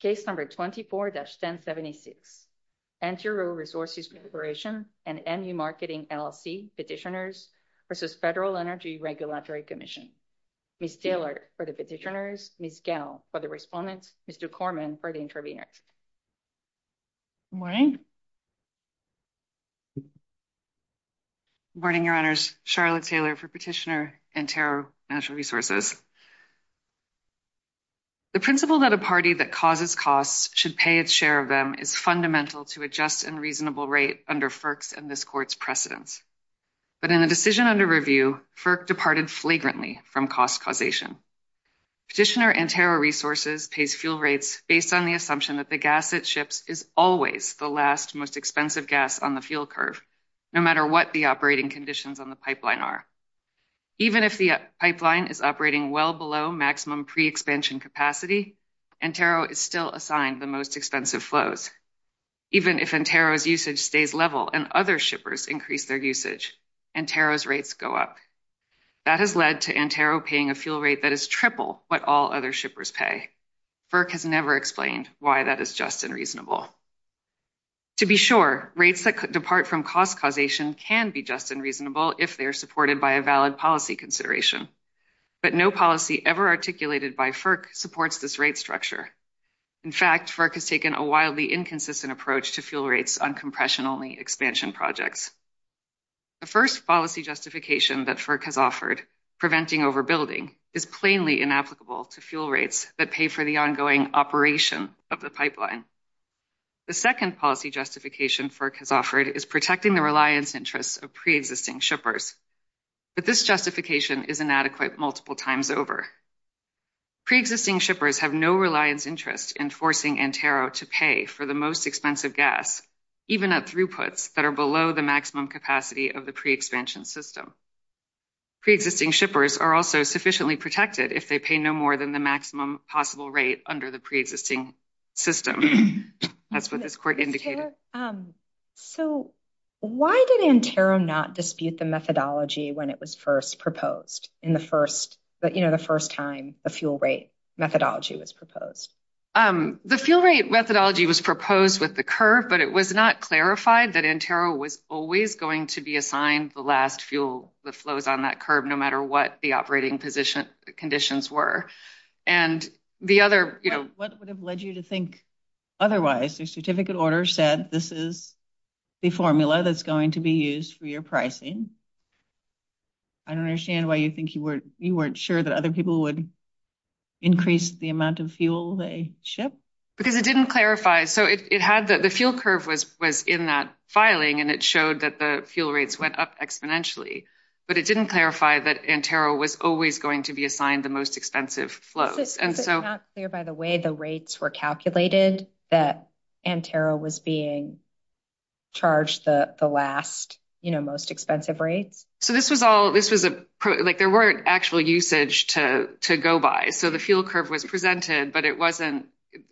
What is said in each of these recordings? Case number 24-1076, Antero Resources Corporation and MU Marketing LLC Petitioners versus Federal Energy Regulatory Commission. Ms. Taylor for the petitioners, Ms. Gell for the respondent, Mr. Corman for the intervener. Morning. Morning, Your Honors. Charlotte Taylor for Petitioner Antero National Resources. The principle that a party that causes costs should pay its share of them is fundamental to a just and reasonable rate under FERC's and this court's precedence. But in the decision under review, FERC departed flagrantly from cost causation. Petitioner Antero Resources pays fuel rates based on the assumption that the gas it ships is always the last most expensive gas on the fuel curve, no matter what the operating conditions on the pipeline are. Even if the pipeline is operating well below maximum pre-expansion capacity, Antero is still assigned the most expensive flows. Even if Antero's usage stays level and other shippers increase their usage, Antero's rates go up. That has led to Antero paying a fuel rate that is triple what all other shippers pay. FERC has never explained why that is just and reasonable. To be sure, rates that depart from cost causation can be just and reasonable if they're supported by a valid policy consideration. But no policy ever articulated by FERC supports this rate structure. In fact, FERC has taken a wildly inconsistent approach to fuel rates on compression-only expansion projects. The first policy justification that FERC has offered, preventing overbuilding, is plainly inapplicable to fuel rates that pay for the ongoing operation of the pipeline. The second policy justification FERC has offered is protecting the reliance interests of pre-existing shippers. But this justification is inadequate multiple times over. Pre-existing shippers have no reliance interest in forcing Antero to pay for the most expensive gas, even at throughputs that are below the maximum capacity of the pre-expansion system. Pre-existing shippers are also sufficiently protected if they pay no more than the maximum possible rate under the pre-existing system. That's what this court indicated. Okay. So why did Antero not dispute the methodology when it was first proposed, in the first, you know, the first time the fuel rate methodology was proposed? The fuel rate methodology was proposed with the curve, but it was not clarified that Antero was always going to be assigned the last fuel that flows on that curve, no matter what the operating conditions were. And the other, you know- What would have led you to think otherwise? The certificate order said, this is the formula that's going to be used for your pricing. I don't understand why you think you weren't, you weren't sure that other people would increase the amount of fuel they ship. Because it didn't clarify. So it had that the fuel curve was in that filing, and it showed that the fuel rates went up exponentially, but it didn't clarify that Antero was always going to be assigned the most expensive flows. And so- It's not clear by the way the rates were calculated that Antero was being charged the last, you know, most expensive rate. So this was all, this was a pro, like there weren't actual usage to go by. So the fuel curve was presented, but it wasn't.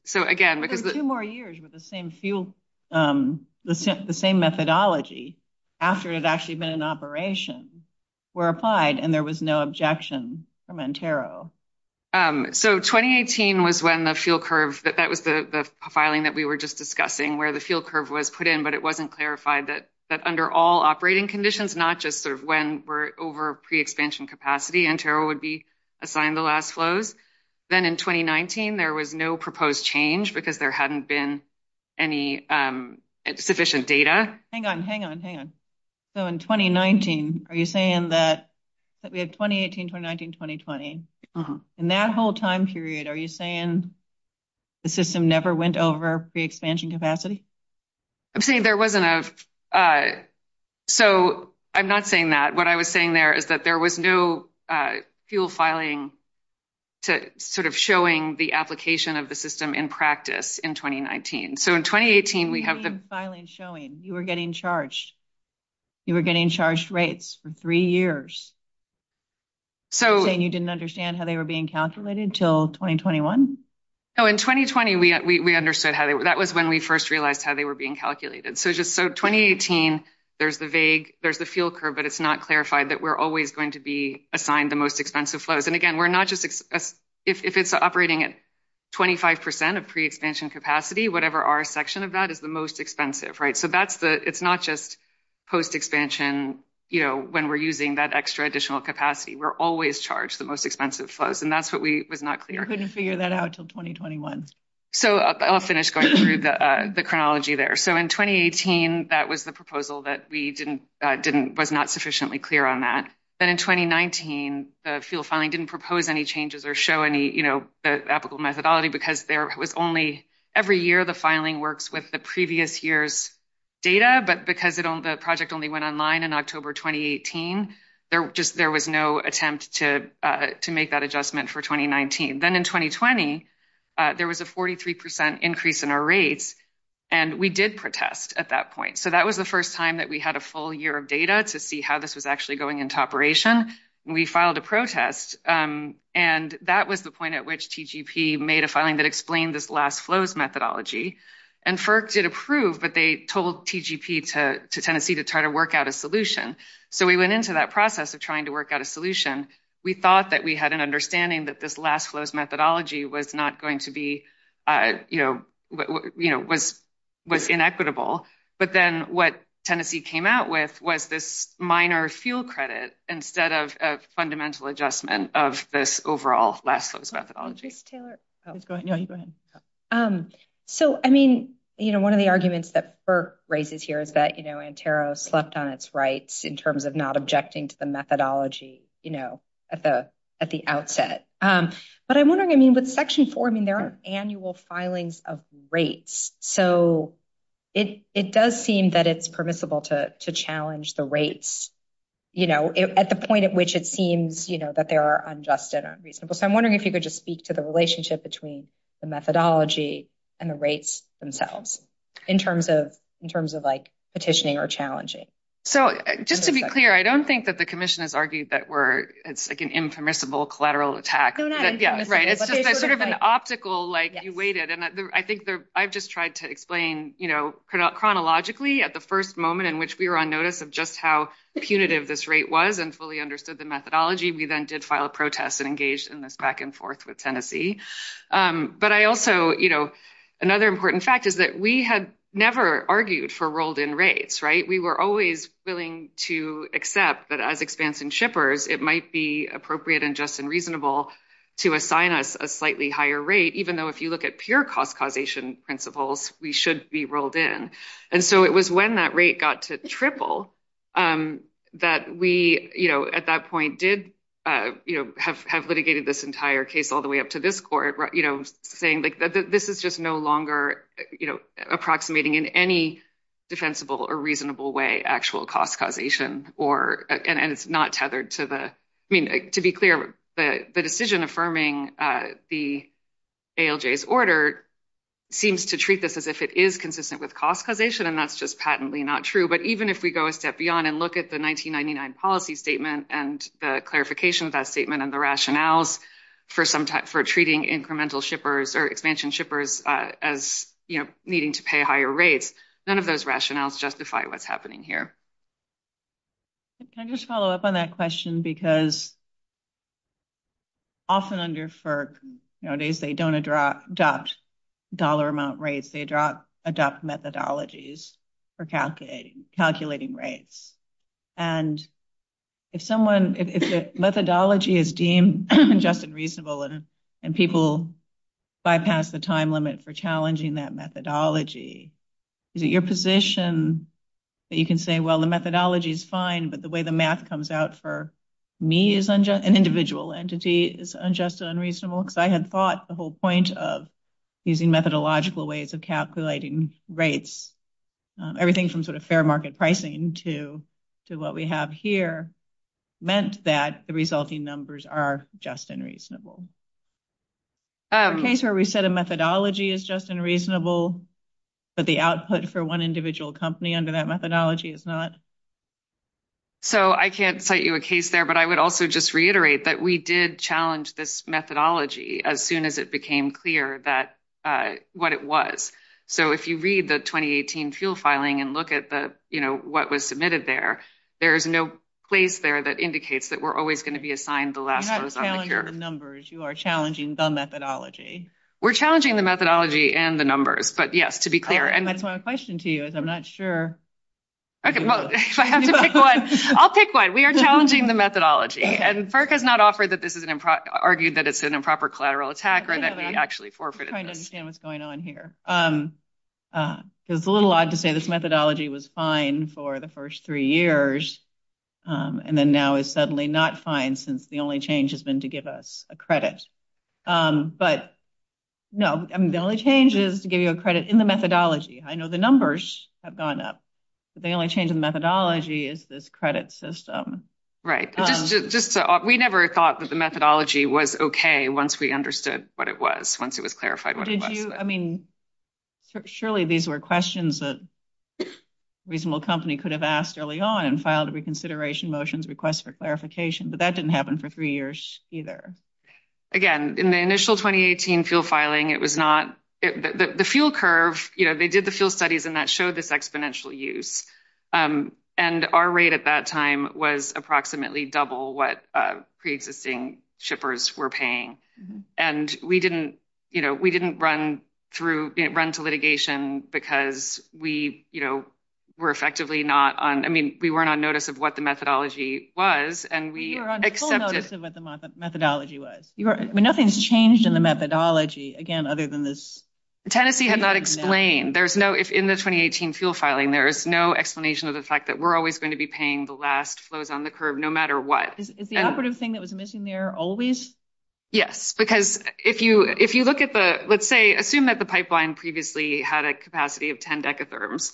So again, because- There were two more years with the same fuel, the same methodology, after it had actually been in operation, were applied and there was no objection from Antero. So 2018 was when the fuel curve, that was the filing that we were just discussing where the fuel curve was put in, but it wasn't clarified that under all operating conditions, not just sort of when we're over pre-expansion capacity, Antero would be assigned the last flows. Then in 2019, there was no proposed change because there hadn't been any sufficient data. Hang on, hang on, hang on. So in 2019, are you saying that we had 2018, 2019, 2020, in that whole time period, are you saying the system never went over pre-expansion capacity? I'm saying there wasn't a, so I'm not saying that. What I was saying there is that there was no fuel filing to sort of showing the application of the system in practice in 2019. So in 2018, we have the- Filing showing, you were getting charged. You were getting charged rates for three years. So- And you didn't understand how they were being calculated until 2021? So in 2020, we understood how they were, that was when we first realized how they were being calculated. So just, so 2018, there's the vague, there's the fuel curve, but it's not clarified that we're always going to be assigned the most expensive flows. And again, we're not just, if it's operating at 25% of pre-expansion capacity, whatever our section of that is the most expensive, right? So that's the, it's not just post-expansion, when we're using that extra additional capacity, we're always charged the most expensive flows. And that's what we was not clear. We couldn't figure that out until 2021. So I'll finish going through the chronology there. So in 2018, that was the proposal that we didn't, was not sufficiently clear on that. Then in 2019, the fuel filing didn't propose any changes or show any, you know, the applicable methodology because there was only, every year the filing works with the previous year's data, but because the project only went online in October, 2018, there just, there was no attempt to make that adjustment for 2019. Then in 2020, there was a 43% increase in our rates and we did protest at that point. So that was the first time that we had a full year of data to see how this was actually going into operation. We filed a protest and that was the point at which TGP made a filing that explained this last flows methodology and FERC did approve, but they told TGP to Tennessee to try to work out a solution. So we went into that process of trying to work out a solution. We thought that we had an understanding that this last flows methodology was not going to be, you know, was inequitable, but then what Tennessee came out with was this minor fuel credit instead of a fundamental adjustment of this overall last flows methodology. Taylor. Go ahead. So, I mean, you know, one of the arguments that FERC raises here is that, you know, in terms of not objecting to the methodology, you know, at the outset, but I'm wondering, I mean, with section four, I mean, there are annual filings of rates. So it does seem that it's permissible to challenge the rates, you know, at the point at which it seems, you know, that there are unjust and unreasonable. So I'm wondering if you could just speak to the relationship between the methodology and the rates themselves in terms of like petitioning or challenging. So just to be clear, I don't think that the commission has argued that it's like an impermissible collateral attack. Yeah, right. It's sort of an optical, like you waited. And I think I've just tried to explain, you know, chronologically at the first moment in which we were on notice of just how punitive this rate was and fully understood the methodology. We then did file a protest and engaged in this back and forth with Tennessee. But I also, you know, another important fact is that we had never argued for rolled in rates, right? We were always willing to accept that as expanse and shippers, it might be appropriate and just and reasonable to assign us a slightly higher rate, even though if you look at pure cost causation principles, we should be rolled in. And so it was when that rate got to triple that we, you know, at that point did, you know, have litigated this entire case all the way up to this court, you know, saying like, this is just no longer, you know, defensible or reasonable way actual cost causation or, and it's not tethered to the, I mean, to be clear, the decision affirming the ALJ's order seems to treat this as if it is consistent with cost causation and that's just patently not true. But even if we go a step beyond and look at the 1999 policy statement and the clarification of that statement and the rationales for treating incremental shippers or expansion shippers as needing to pay higher rates, none of those rationales justify what's happening here. Can I just follow up on that question? Because often under FERC, nowadays they don't adopt dollar amount rates, they adopt methodologies for calculating rates. And if someone, if the methodology is deemed just and reasonable and people bypass the time limit for challenging that methodology, is it your position that you can say, well, the methodology is fine, but the way the math comes out for me as an individual entity is unjust and unreasonable? Because I had thought the whole point of using methodological ways of calculating rates, everything from sort of fair market pricing to what we have here meant that the resulting numbers are just and reasonable. A case where we said a methodology is just and reasonable, but the output for one individual company under that methodology is not. So I can't cite you a case there, but I would also just reiterate that we did challenge this methodology as soon as it became clear what it was. So if you read the 2018 fuel filing and look at what was submitted there, there is no place there that indicates that we're always gonna be assigned the last. If you're not challenging the numbers, you are challenging the methodology. We're challenging the methodology and the numbers, but yes, to be clear. And that's my question to you is I'm not sure. Okay, well, I'll pick one. We are challenging the methodology and FERC has not argued that it's an improper collateral attack or that we actually forfeited. I'm trying to understand what's going on here. It's a little odd to say this methodology was fine for the first three years and then now it's suddenly not fine since the only change has been to give us a credit. But no, the only change is to give you a credit in the methodology. I know the numbers have gone up, but the only change in methodology is this credit system. Right, we never thought that the methodology was okay once we understood what it was, once it was clarified. I mean, surely these were questions that a reasonable company could have asked early on and filed a reconsideration motions request for clarification, but that didn't happen for three years either. Again, in the initial 2018 field filing, it was not, the field curve, they did the field studies and that showed this exponential use. And our rate at that time was approximately double what pre-existing shippers were paying. And we didn't run through, run to litigation because we were effectively not on, I mean, we weren't on notice of what the methodology was and we accepted- We were on full notice of what the methodology was. Nothing's changed in the methodology, again, other than this- Tennessee has not explained. There's no, in the 2018 field filing, there is no explanation of the fact that we're always going to be paying the last flows on the curve, no matter what. Is the operative thing that was missing there always? Yes, because if you look at the, let's say, assume that the pipeline previously had a capacity of 10 decatherms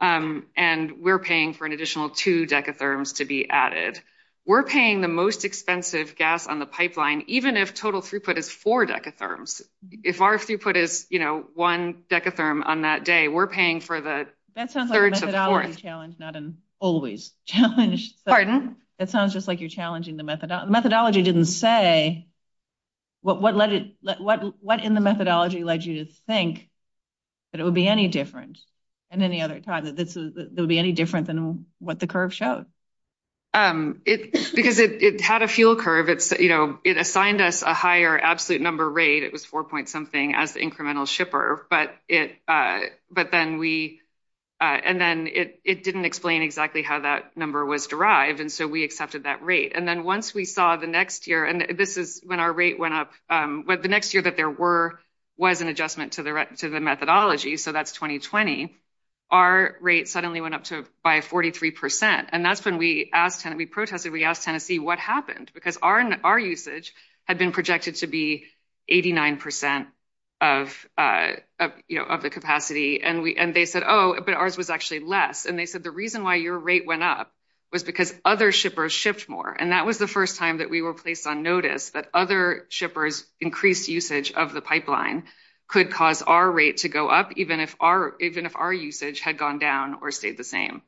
and we're paying for an additional two decatherms to be added. We're paying the most expensive gas on the pipeline, even if total throughput is four decatherms. If our throughput is, you know, one decatherm on that day, we're paying for the- That sounds like a methodology challenge, not an always challenge. Pardon? That sounds just like you're challenging the methodology. Methodology didn't say what in the methodology led you to think that it would be any different. And then the other time that this is, there'll be any different than what the curve shows? Because it had a fuel curve. It's, you know, it assigned us a higher absolute number rate. It was 4.something as the incremental shipper, but then we, and then it didn't explain exactly how that number was derived. And so we accepted that rate. And then once we saw the next year, and this is when our rate went up, but the next year that there were, was an adjustment to the methodology. So that's 2020. Our rate suddenly went up to by 43%. And that's when we asked, we protested, we asked Tennessee what happened because our usage had been projected to be 89% of the capacity. And they said, oh, but ours was actually less. And they said, the reason why your rate went up was because other shippers shipped more. And that was the first time that we were placed on notice that other shippers increased usage of the pipeline could cause our rate to go up, even if our usage had gone down or stayed the same.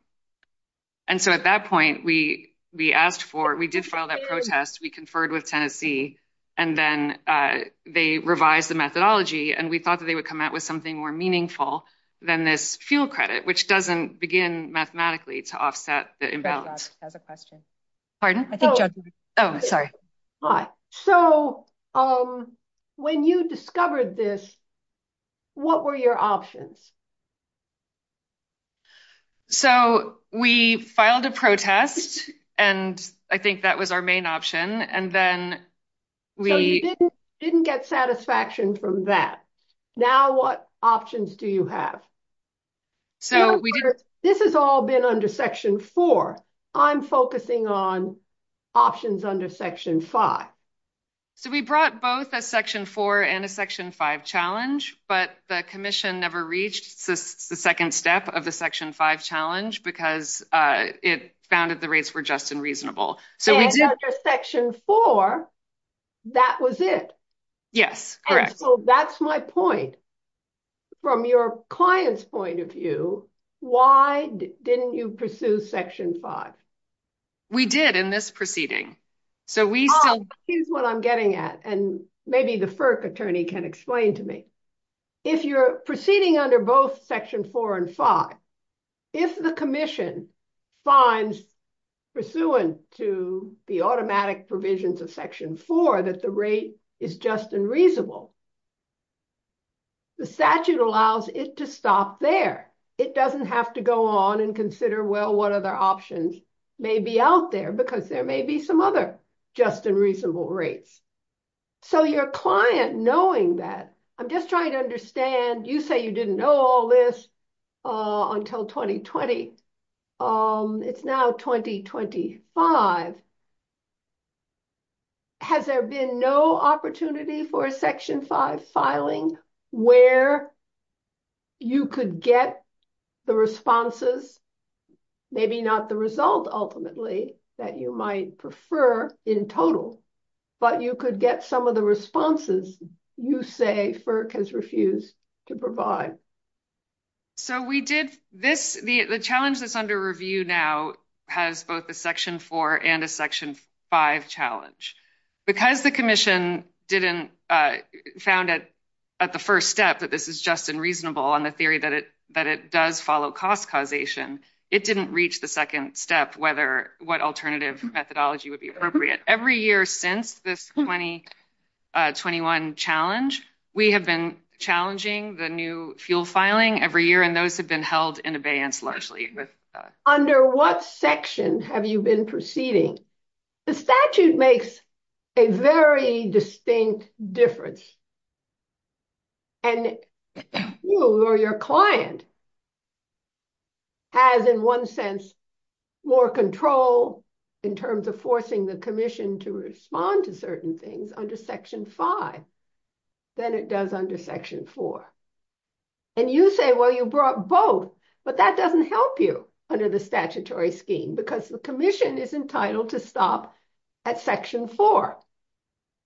And so at that point, we asked for, we did file that protest. We conferred with Tennessee, and then they revised the methodology. And we thought that they would come out with something more meaningful than this fuel credit, which doesn't begin mathematically to offset the imbalance. I have a question. Pardon? Oh, sorry. All right. So when you discovered this, what were your options? So we filed a protest, and I think that was our main option. And then we- So you didn't get satisfaction from that. Now what options do you have? This has all been under section four. I'm focusing on options under section five. So we brought both a section four and a section five challenge, but the commission never reached the second step of the section five challenge because it found that the rates were just and reasonable. So we did- Under section four, that was it. Yes, correct. And so that's my point. From your client's point of view, why didn't you pursue section five? We did in this proceeding. So we- Oh, here's what I'm getting at. And maybe the FERC attorney can explain to me. If you're proceeding under both section four and five, if the commission finds pursuant to the automatic provisions of section four that the rate is just and reasonable, the statute allows it to stop there. It doesn't have to go on and consider, well, what other options may be out there because there may be some other just and reasonable rates. So your client, knowing that, I'm just trying to understand, you say you didn't know all this until 2020. It's now 2025. Has there been no opportunity for a section five filing where you could get the responses, maybe not the result ultimately that you might prefer in total, but you could get some of the responses you say FERC has refused to provide? So we did this, the challenge that's under review now has both a section four and a section five challenge. Because the commission didn't found it at the first step that this is just and reasonable on the theory that it does follow cost causation, it didn't reach the second step whether what alternative methodology would be appropriate. Every year since this 2021 challenge, we have been challenging the new fuel filing every year and those have been held in abeyance largely. Under what section have you been proceeding? The statute makes a very distinct difference. And you or your client has in one sense, more control in terms of forcing the commission to respond to certain things under section five than it does under section four. And you say, well, you brought both, but that doesn't help you under the statutory scheme because the commission is entitled to stop at section four.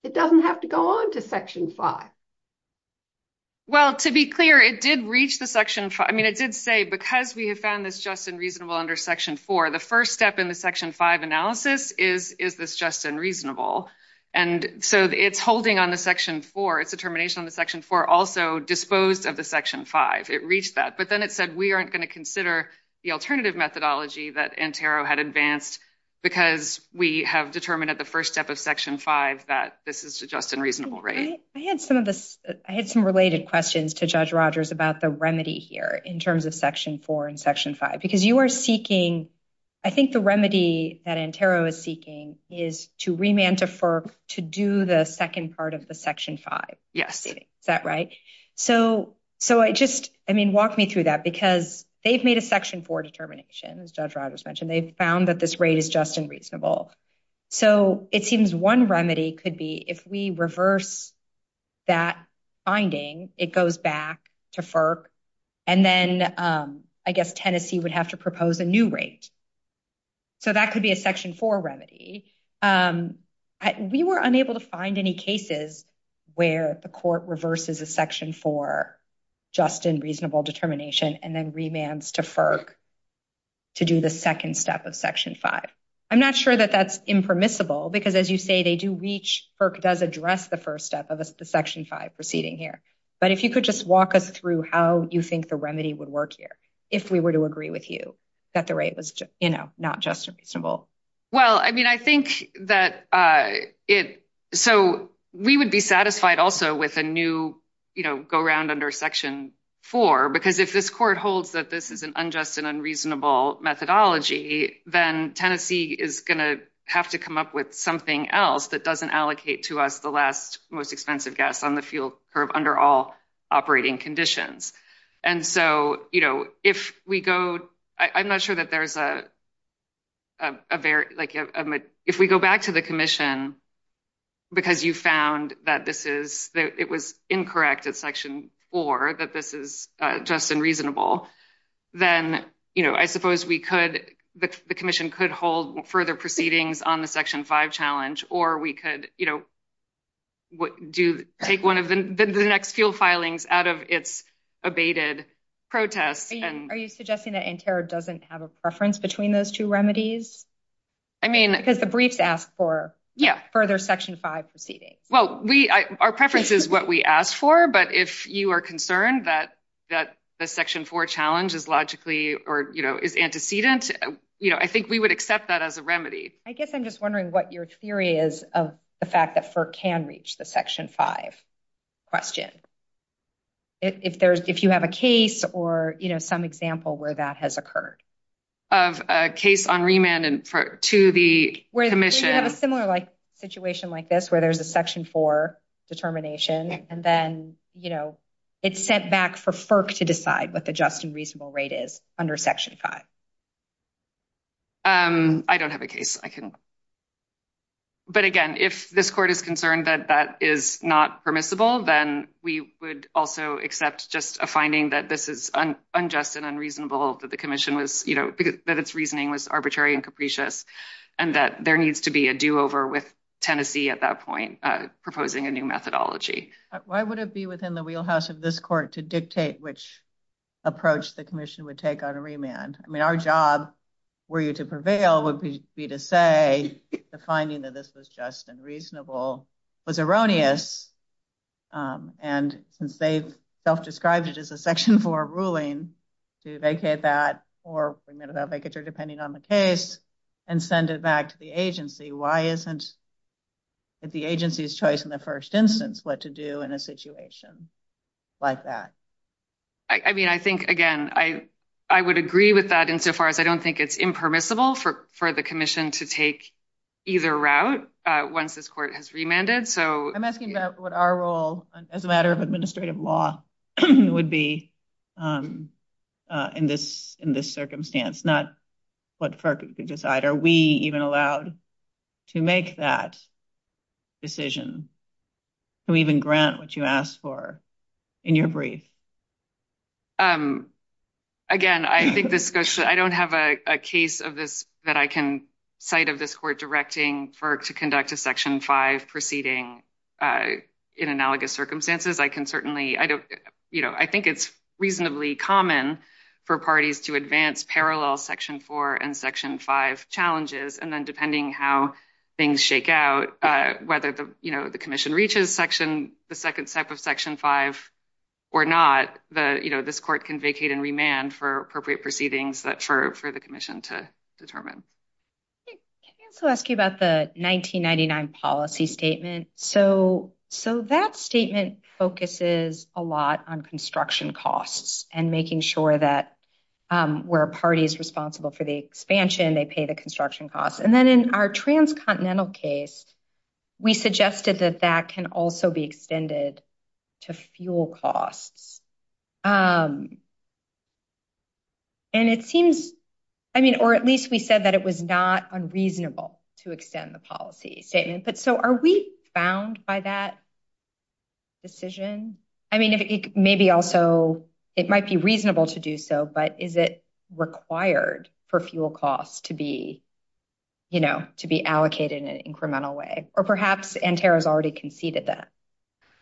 It doesn't have to go on to section five. Well, to be clear, it did reach the section five. I mean, it did say because we have found this just and reasonable under section four, the first step in the section five analysis is this just and reasonable. And so it's holding on the section four, it's a termination on the section four also disposed of the section five, it reached that. But then it said, we aren't gonna consider the alternative methodology that Antero had advanced because we have determined at the first step of section five that this is just and reasonable, right? I had some related questions to Judge Rogers about the remedy here in terms of section four and section five, because you are seeking, I think the remedy that Antero is seeking is to remand to FERC to do the second part of the section five. Yes. Is that right? So I just, I mean, walk me through that because they've made a section four determination as Judge Rogers mentioned, they found that this rate is just and reasonable. So it seems one remedy could be if we reverse that finding, it goes back to FERC and then I guess Tennessee would have to propose a new rate. So that could be a section four remedy. We were unable to find any cases where the court reverses a section four just and reasonable determination and then remands to FERC to do the second step of section five. I'm not sure that that's impermissible because as you say, they do reach, FERC does address the first step of the section five proceeding here. But if you could just walk us through how you think the remedy would work here if we were to agree with you that the rate was not just and reasonable. Well, I mean, I think that it, so we would be satisfied also with a new, go around under section four, because if this court holds that this is an unjust and unreasonable methodology, then Tennessee is gonna have to come up with something else that doesn't allocate to us the last most expensive guess on the fuel curve under all operating conditions. And so, if we go, I'm not sure that there's a, if we go back to the commission, because you found that this is, that it was incorrect at section four, that this is just and reasonable, then I suppose we could, the commission could hold further proceedings on the section five challenge, or we could take one of the next fuel filings out of its abated protest. Are you suggesting that NCARB doesn't have a preference between those two remedies? I mean- It's a brief to ask for further section five proceedings. Well, we, our preference is what we asked for, but if you are concerned that the section four challenge is logically, or is antecedent, I think we would accept that as a remedy. I guess I'm just wondering what your theory is of the fact that FERC can reach the section five question. If there's, if you have a case or some example where that has occurred. Of a case on remand to the commission. We have a similar situation like this, where there's a section four determination, and then it's sent back for FERC to decide what the just and reasonable rate is under section five. I don't have a case I can, but again, if this court is concerned that that is not permissible, then we would also accept just a finding that this is unjust and unreasonable, that the commission was, that its reasoning was arbitrary and capricious, and that there needs to be a do over with Tennessee at that point, proposing a new methodology. Why would it be within the wheelhouse of this court to dictate which approach the commission would take on a remand? I mean, our job, were you to prevail, would be to say the finding that this was just and reasonable was erroneous, and since they've self-described it as a section four ruling, to vacate that or bring it to that vacature, depending on the case, and send it back to the agency. Why isn't the agency's choice in the first instance what to do in a situation like that? I mean, I think, again, I would agree with that insofar as I don't think it's impermissible for the commission to take either route once this court has remanded, so. I'm asking about what our role as a matter of administrative law would be in this circumstance, not what FERC could decide. Are we even allowed to make that decision? Do we even grant what you asked for in your brief? Again, I think this discussion, I don't have a case of this that I can cite of this court directing FERC to conduct a section five proceeding in analogous circumstances. I can certainly, I don't, you know, I think it's reasonably common for parties to advance parallel section four and section five challenges, and then depending how things shake out, whether the commission reaches section, the second step of section five or not, the, you know, this court can vacate and remand for appropriate proceedings that for the commission to determine. I was gonna ask you about the 1999 policy statement. So that statement focuses a lot on construction costs and making sure that where a party is responsible for the expansion, they pay the construction costs. And then in our transcontinental case, we suggested that that can also be extended to fuel costs. And it seems, I mean, or at least we said that it was not unreasonable to extend the policy statement, but so are we bound by that decision? I mean, maybe also it might be reasonable to do so, but is it required for fuel costs to be, you know, to be allocated in an incremental way, or perhaps NTERA has already conceded that.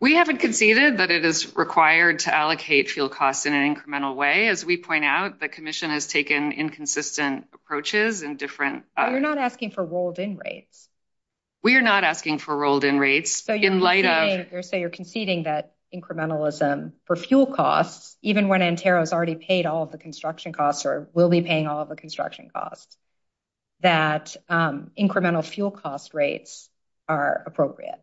We haven't conceded, but it is required to allocate fuel costs in an incremental way. As we point out, the commission has taken inconsistent approaches and different- You're not asking for rolled in rates. We are not asking for rolled in rates. So you're conceding that incrementalism for fuel costs, even when NTERA has already paid all of the construction costs or will be paying all of the construction costs, that incremental fuel cost rates are appropriate.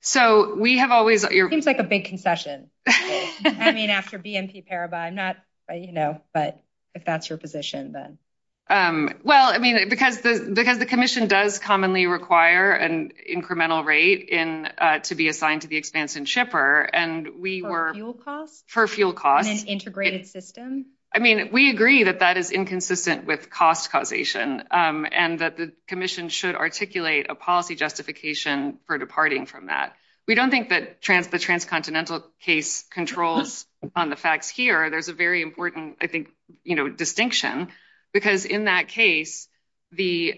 So we have always- It seems like a big concession. I mean, after BNP Paribas, I'm not, you know, but if that's your position then. Well, I mean, because the commission does commonly require an incremental rate to be assigned to the expansion shipper, and we were- For fuel costs? For fuel costs. In an integrated system? I mean, we agree that that is inconsistent with cost causation, and that the commission should articulate a policy justification for departing from that. We don't think that the transcontinental case controls on the facts here. There's a very important, I think, you know, distinction, because in that case, the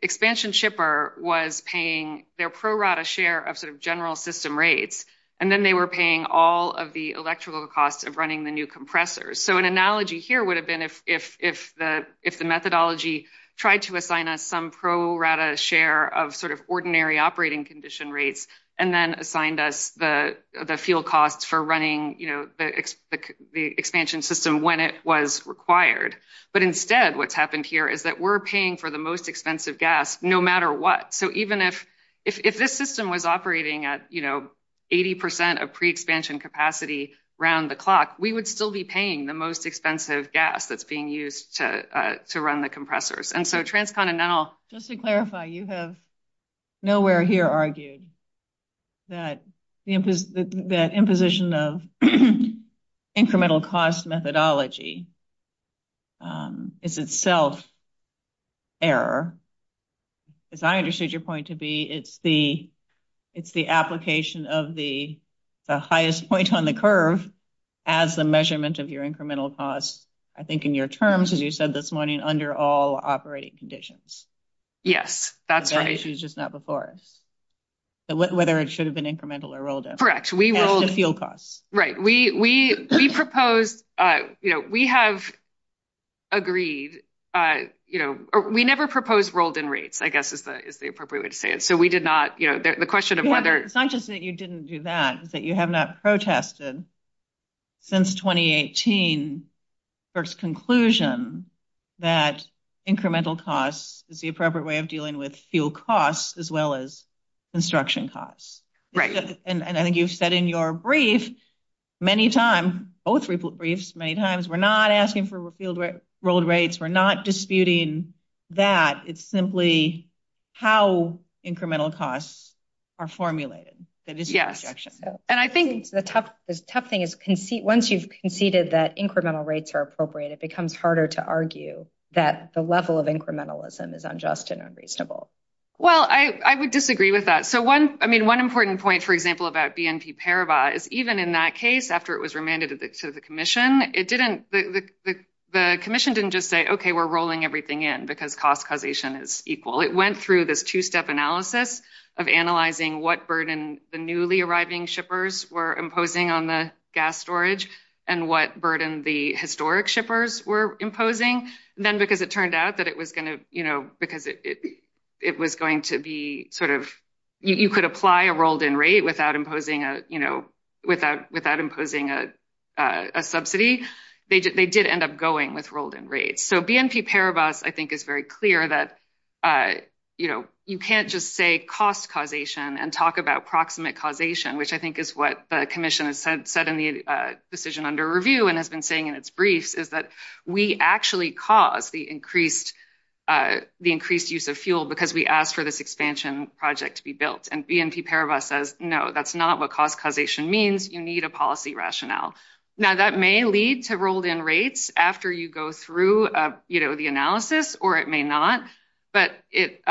expansion shipper was paying their pro rata share of sort of general system rates, and then they were paying all of the electrical costs of running the new compressors. So an analogy here would have been if the methodology tried to assign us some pro rata share of sort of ordinary operating condition rates, and then assigned us the fuel costs for running, you know, the expansion system when it was required. But instead, what's happened here is that we're paying for the most expensive gas, no matter what. So even if this system was operating at, you know, 80% of pre-expansion capacity around the clock, we would still be paying the most expensive gas that's being used to run the compressors. And so transcontinental- Just to clarify, you have nowhere here argued that imposition of incremental cost methodology is itself error. As I understood your point to be, it's the application of the highest point on the curve as the measurement of your incremental costs, I think in your terms, as you said this morning, under all operating conditions. Yes, that's right. So that issue is just not before us. So whether it should have been incremental or rolled in. Correct, we will- And the fuel costs. Right, we proposed, you know, we have agreed, you know, we never proposed rolled in rates, I guess is the appropriate way to say it. You know, the question of whether- Yeah, it's not just that you didn't do that, that you have not protested since 2018 first conclusion that incremental costs is the appropriate way of dealing with fuel costs as well as construction costs. Right. And I think you've said in your brief many times, both briefs, many times, we're not asking for refueled rates, we're not disputing that. It's simply how incremental costs are formulated. That is your objection. And I think- The tough thing is once you've conceded that incremental rates are appropriate, it becomes harder to argue that the level of incrementalism is unjust and unreasonable. Well, I would disagree with that. So one, I mean, one important point, for example, about BNP Paribas is even in that case, after it was remanded to the commission, it didn't, the commission didn't just say, okay, we're rolling everything in because cost causation is equal. It went through this two-step analysis of analyzing what burden the newly arriving shippers were imposing on the gas storage and what burden the historic shippers were imposing. Then because it turned out that it was going to, because it was going to be sort of, you could apply a rolled in rate without imposing a, without imposing a subsidy, they did end up going with rolled in rates. So BNP Paribas, I think, is very clear that, you know, you can't just say cost causation and talk about proximate causation, which I think is what the commission has said in the decision under review and has been saying in its brief, is that we actually caused the increased, the increased use of fuel because we asked for this expansion project to be built. And BNP Paribas says, no, that's not what cost causation means. You need a policy rationale. Now that may lead to rolled in rates after you go through, you know, the analysis, or it may not. But it,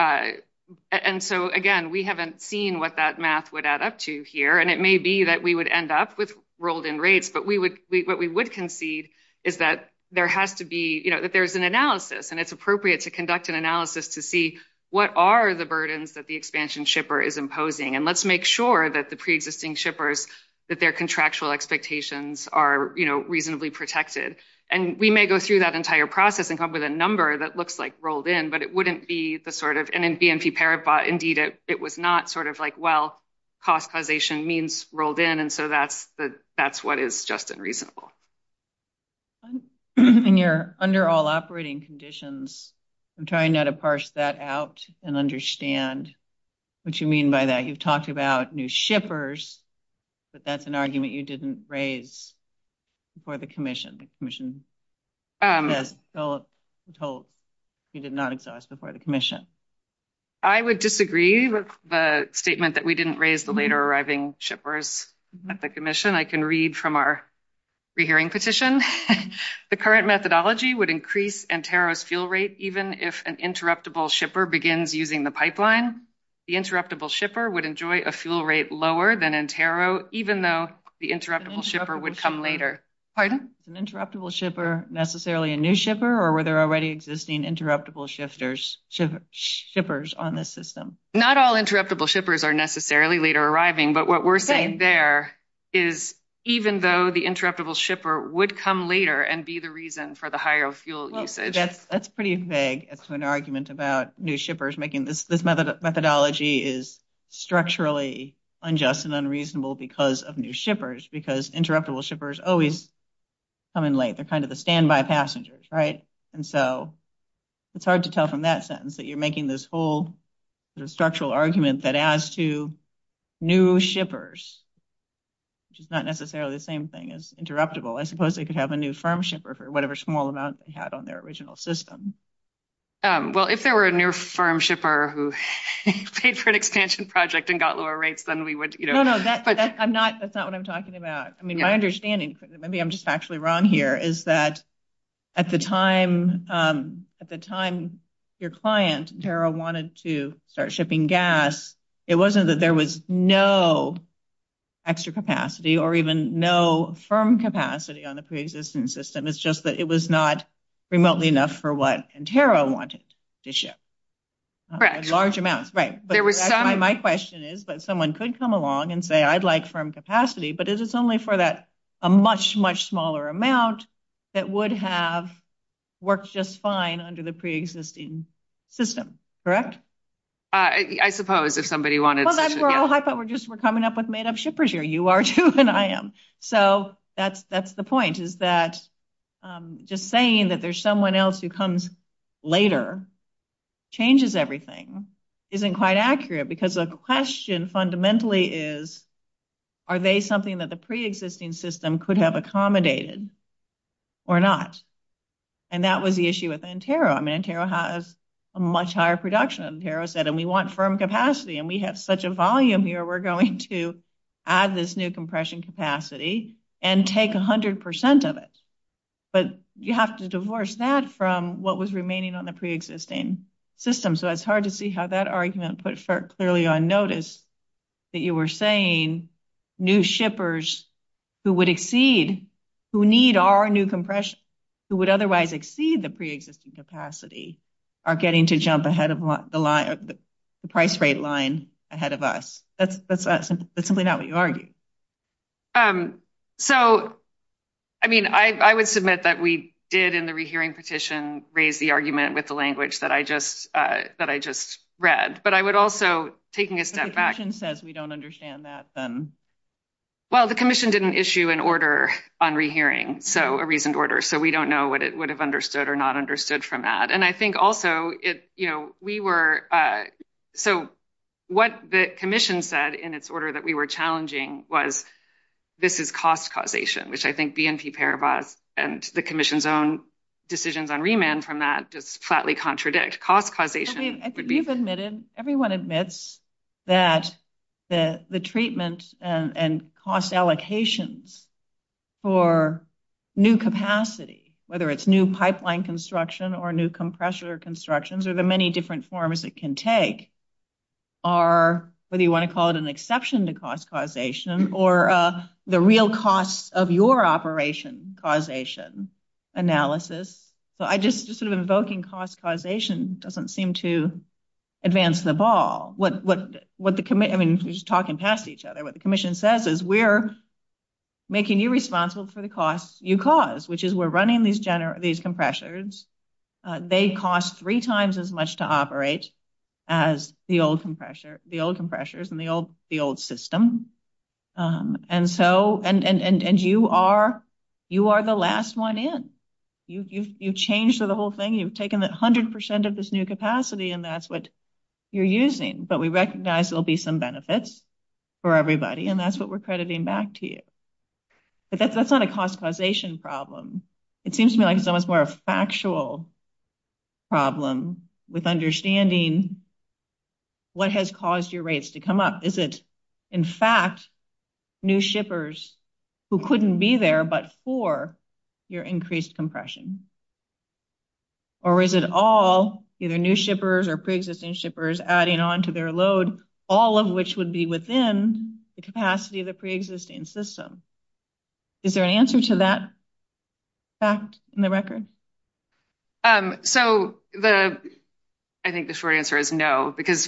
and so again, we haven't seen what that math would add up to here. And it may be that we would end up with rolled in rates, but we would, what we would concede is that there has to be, you know, that there's an analysis and it's appropriate to conduct an analysis to see what are the burdens that the expansion shipper is imposing. And let's make sure that the preexisting shippers, that their contractual expectations are, you know, reasonably protected. And we may go through that entire process and come up with a number that looks like rolled in, but it wouldn't be the sort of, and in BNP Paribas, indeed, it was not sort of like, well, cost causation means rolled in. And so that's what is just unreasonable. And you're under all operating conditions. I'm trying now to parse that out and understand what you mean by that. You've talked about new shippers, but that's an argument you didn't raise before the commission. The commission told you did not exhaust before the commission. I would disagree with the statement that we didn't raise the later arriving shippers at the commission. I can read from our re-hearing petition. The current methodology would increase NTERO's fuel rate, even if an interruptible shipper begins using the pipeline. The interruptible shipper would enjoy a fuel rate lower than NTERO, even though the interruptible shipper would come later. Pardon? An interruptible shipper, necessarily a new shipper, or were there already existing interruptible shippers on this system? Not all interruptible shippers are necessarily later arriving, but what we're saying there is even though the interruptible shipper would come later and be the reason for the higher fuel usage. That's pretty vague. It's an argument about new shippers making this methodology is structurally unjust and unreasonable because of new shippers, because interruptible shippers always come in late. They're kind of the standby passengers, right? And so it's hard to tell from that sentence that you're making this whole structural argument that as to new shippers, which is not necessarily the same thing as interruptible, I suppose they could have a new firm shipper for whatever small amount they had on their original system. Well, if there were a new firm shipper who paid for an expansion project and got lower rates, then we would- No, no, that's not what I'm talking about. I mean, my understanding, maybe I'm just actually wrong here, is that at the time your client, Tarot, wanted to start shipping gas, it wasn't that there was no extra capacity or even no firm capacity on the pre-existing system. It's just that it was not remotely enough for what Tarot wanted to ship. Large amounts, right. But my question is, someone could come along and say, I'd like firm capacity, but it's only for that, a much, much smaller amount that would have worked just fine under the pre-existing system, correct? I suppose if somebody wanted- Well, that's where I thought we're just, we're coming up with made-up shippers here. You are too, and I am. So that's the point, is that just saying that there's someone else who comes later, changes everything, isn't quite accurate because the question fundamentally is, are they something that the pre-existing system could have accommodated or not? And that was the issue with Antero. I mean, Antero has a much higher production than Tarot said, and we want firm capacity, and we have such a volume here, we're going to add this new compression capacity and take 100% of it. But you have to divorce that from what was remaining on the pre-existing system. So it's hard to see how that argument could start clearly on notice that you were saying new shippers who would exceed, who need our new compression, who would otherwise exceed the pre-existing capacity are getting to jump ahead of the price rate line ahead of us. That's simply not what you argued. So, I mean, I would submit that we did, in the rehearing petition, raise the argument with the language that I just read, but I would also, taking a step back- If the commission says we don't understand that, then? Well, the commission didn't issue an order on rehearing, so a reasoned order. So we don't know what it would have understood or not understood from that. And I think also, you know, we were, so what the commission said in its order that we were challenging was, this is cost causation, which I think DNP Paribas and the commission's own decisions on remand from that just flatly contradict. Cost causation would be- Everyone admits that the treatment and cost allocations for new capacity, whether it's new pipeline construction or new compressor constructions or the many different forms it can take are, whether you want to call it an exception to cost causation or the real costs of your operation causation analysis. So I just, sort of invoking cost causation doesn't seem to advance the ball. What the, I mean, we're just talking past each other. What the commission says is we're making you responsible for the costs you cause, which is we're running these compressors. They cost three times as much to operate as the old compressors and the old system. And so, and you are the last one in. You've changed the whole thing. You've taken 100% of this new capacity and that's what you're using. But we recognize there'll be some benefits for everybody and that's what we're crediting back to you. But that's not a cost causation problem. It seems to me like it's almost more a factual problem with understanding what has caused your rates to come up. Is it, in fact, new shippers who couldn't be there but for your increased compression? Or is it all either new shippers or pre-existing shippers adding on to their load, all of which would be within the capacity of the pre-existing system? Is there an answer to that fact in the record? So the, I think the short answer is no because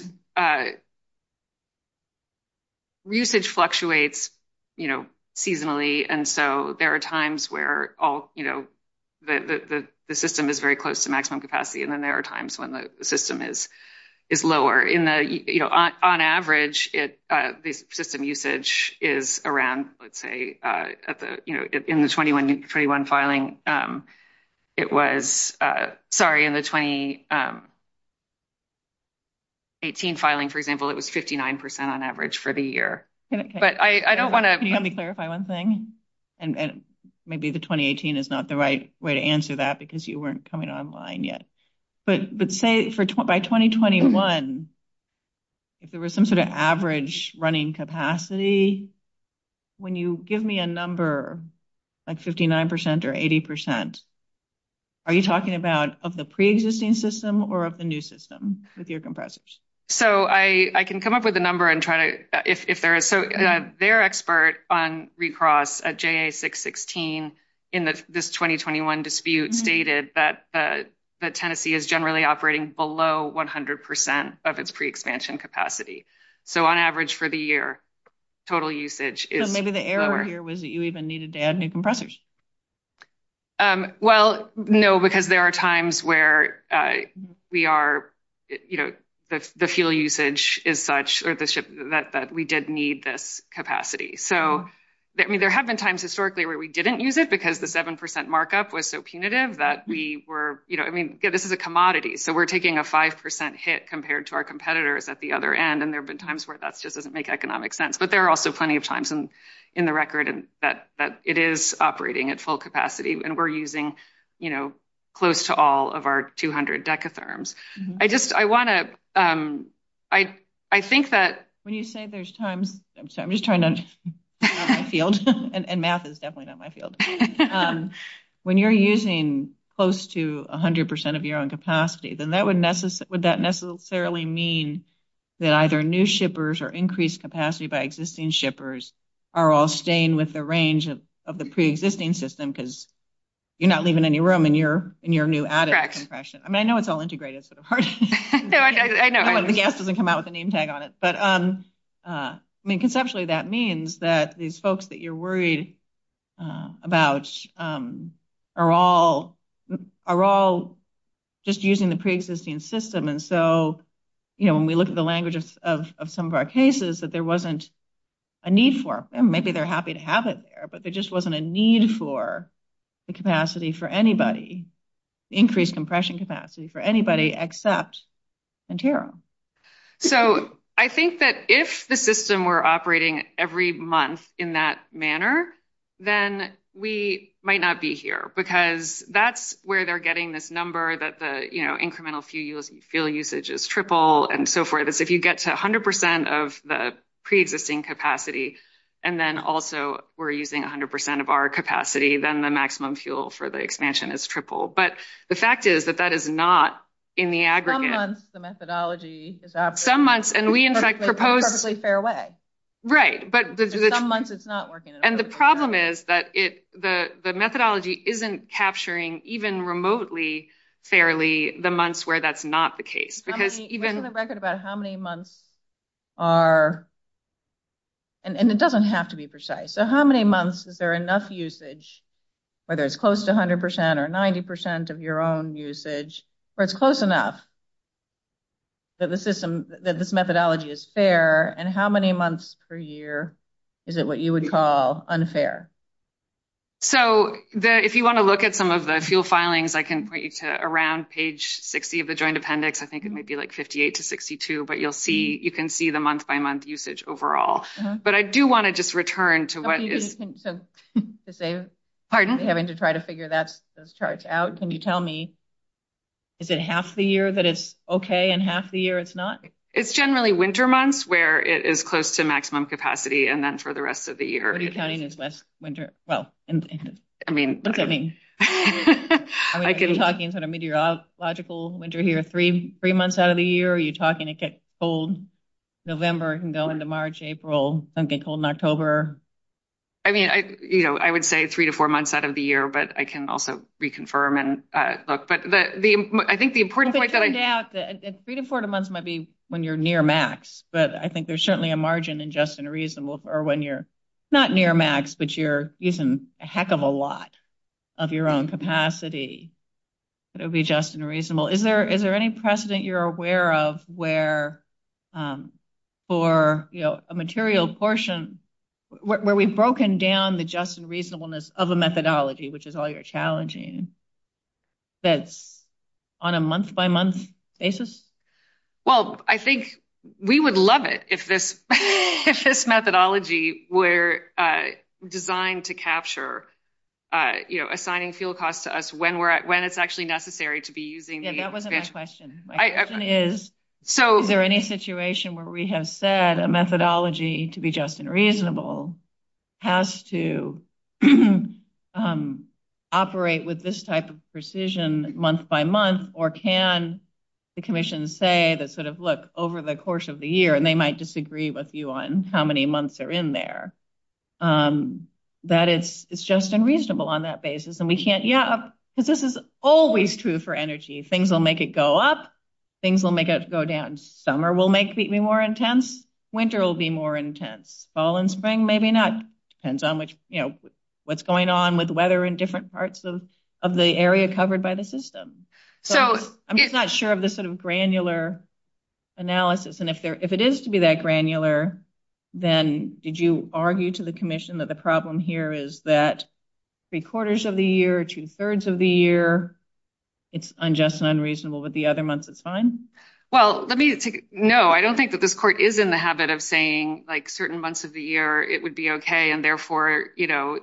usage fluctuates, you know, seasonally. And so there are times where all, you know, the system is very close to maximum capacity and then there are times when the system is lower. In the, you know, on average, the system usage is around, let's say, you know, in the 21 filing, it was, sorry, in the 2018 filing, for example, it was 59% on average for the year. But I don't wanna- Can you let me clarify one thing? And maybe the 2018 is not the right way to answer that because you weren't coming online yet. But say for, by 2021, if there was some sort of average running capacity, when you give me a number like 59% or 80%, are you talking about of the pre-existing system or of the new system with your compressors? So I can come up with a number and try to, if there is. So their expert on recross at JA 616 in this 2021 dispute stated that Tennessee is generally operating below 100% of its pre-expansion capacity. So on average for the year, total usage is lower. Maybe the error here was that you even needed to add new compressors. Well, no, because there are times where we are, you know, the fuel usage is such, that we did need this capacity. So, I mean, there have been times historically where we didn't use it because the 7% markup was so punitive that we were, you know, I mean, this is a commodity. So we're taking a 5% hit compared to our competitors at the other end. And there've been times where that's just doesn't make economic sense. But there are also plenty of times in the record that it is operating at full capacity and we're using, you know, close to all of our 200 decatherms. I just, I wanna, I think that- When you say there's times, I'm sorry, I'm just trying to, my field and math is definitely not my field. When you're using close to 100% of your own capacity, then that would necessarily mean that either new shippers or increased capacity by existing shippers are all staying with the range of the pre-existing system because you're not leaving any room in your new added compression. I mean, I know it's all integrated, it's sort of hard. I know, but the answer doesn't come out with a name tag on it. But I mean, conceptually, that means that these folks that you're worried about are all, are all just using the pre-existing system. And so, you know, when we look at the language of some of our cases that there wasn't a need for, and maybe they're happy to have it there, but there just wasn't a need for the capacity for anybody. Increased compression capacity for anybody except Ontario. So I think that if the system were operating every month in that manner, then we might not be here because that's where they're getting this number that the incremental fuel usage is triple and so forth. If you get to 100% of the pre-existing capacity, and then also we're using 100% of our capacity, then the maximum fuel for the expansion is triple. But the fact is that that is not in the aggregate. Some months, the methodology is absent. Some months, and we in fact propose- In a perfectly fair way. Right, but- In some months, it's not working. And the problem is that the methodology isn't capturing even remotely fairly the months where that's not the case. Because even- We have a record about how many months are, and it doesn't have to be precise. So how many months is there enough usage, whether it's close to 100% or 90% of your own usage, or it's close enough that this methodology is fair, and how many months per year is it what you would call unfair? So if you want to look at some of the fuel filings, I can point you to around page 60 of the Joint Appendix. I think it might be like 58 to 62, but you can see the month-by-month usage overall. But I do want to just return to what is- So, to save- Pardon? Having to try to figure those charts out, can you tell me, is it half the year that it's okay, and half the year it's not? It's generally winter months where it is close to maximum capacity, and then for the rest of the year- Are you counting as West winter? Well, look at me. I mean, are you talking sort of meteorological winter here, three months out of the year, or are you talking a cold November can go into March, April, then get cold in October? I mean, I would say three to four months out of the year, but I can also reconfirm and look. But I think the important point that I- Yeah, three to four months might be when you're near max, but I think there's certainly a margin in just and reasonable for when you're not near max, but you're using a heck of a lot of your own capacity. It would be just and reasonable. Is there any precedent you're aware of where for a material portion, where we've broken down the just and reasonableness of a methodology, which is all you're challenging, that's on a month-by-month basis? Well, I think we would love it if this methodology were designed to capture assigning fuel costs to us when it's actually necessary to be using the- Yeah, that wasn't the question. My question is, is there any situation where we have said a methodology to be just and reasonable has to operate with this type of precision month-by-month, or can the commission say that sort of, look, over the course of the year, and they might disagree with you on how many months are in there, that it's just and reasonable on that basis, and we can't- Yeah, but this is always true for energy. Things will make it go up. Things will make it go down. Summer will make it be more intense. Winter will be more intense. Fall and spring, maybe not. Depends on what's going on with weather in different parts of the area covered by the system. So I'm just not sure of the sort of granular analysis, and if it is to be that granular, then did you argue to the commission that the problem here is that three quarters of the year, two-thirds of the year, it's unjust and unreasonable, but the other months, it's fine? Well, let me take a, no, I don't think that this court is in the habit of saying certain months of the year, it would be okay, and therefore,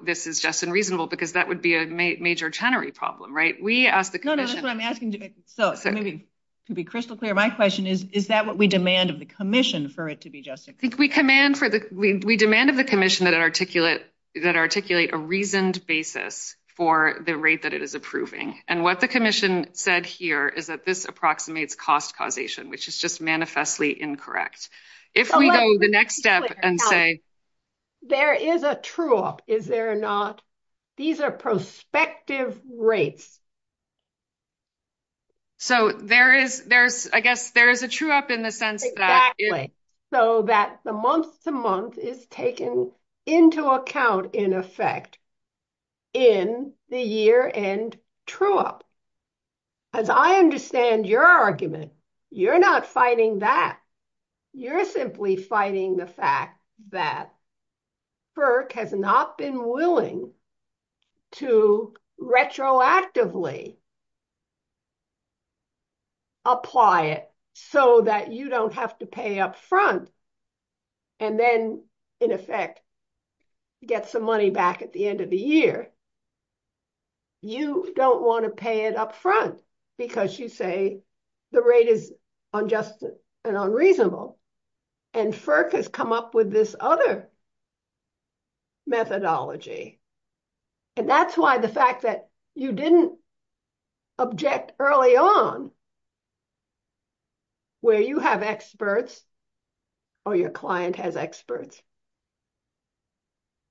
this is just and reasonable, because that would be a major tenery problem, right? We asked the commission- No, no, that's what I'm asking, to be crystal clear, my question is, is that what we demand of the commission for it to be just and reasonable? We demand of the commission that it articulate a reasoned basis for the rate that it is approving, and what the commission said here is that this approximates cost causation, which is just manifestly incorrect. If we go to the next step and say- There is a true-up, is there not? These are prospective rates. So there is, I guess, there is a true-up in the sense that- Exactly, so that the month-to-month is taken into account, in effect, in the year-end true-up. As I understand your argument, you're not fighting that. You're simply fighting the fact that FERC has not been willing to retroactively apply it so that you don't have to pay up front, and then, in effect, get some money back at the end of the year. You don't want to pay it up front because you'd say the rate is unjust and unreasonable, and FERC has come up with this other methodology. And that's why the fact that you didn't object early on, where you have experts or your client has experts,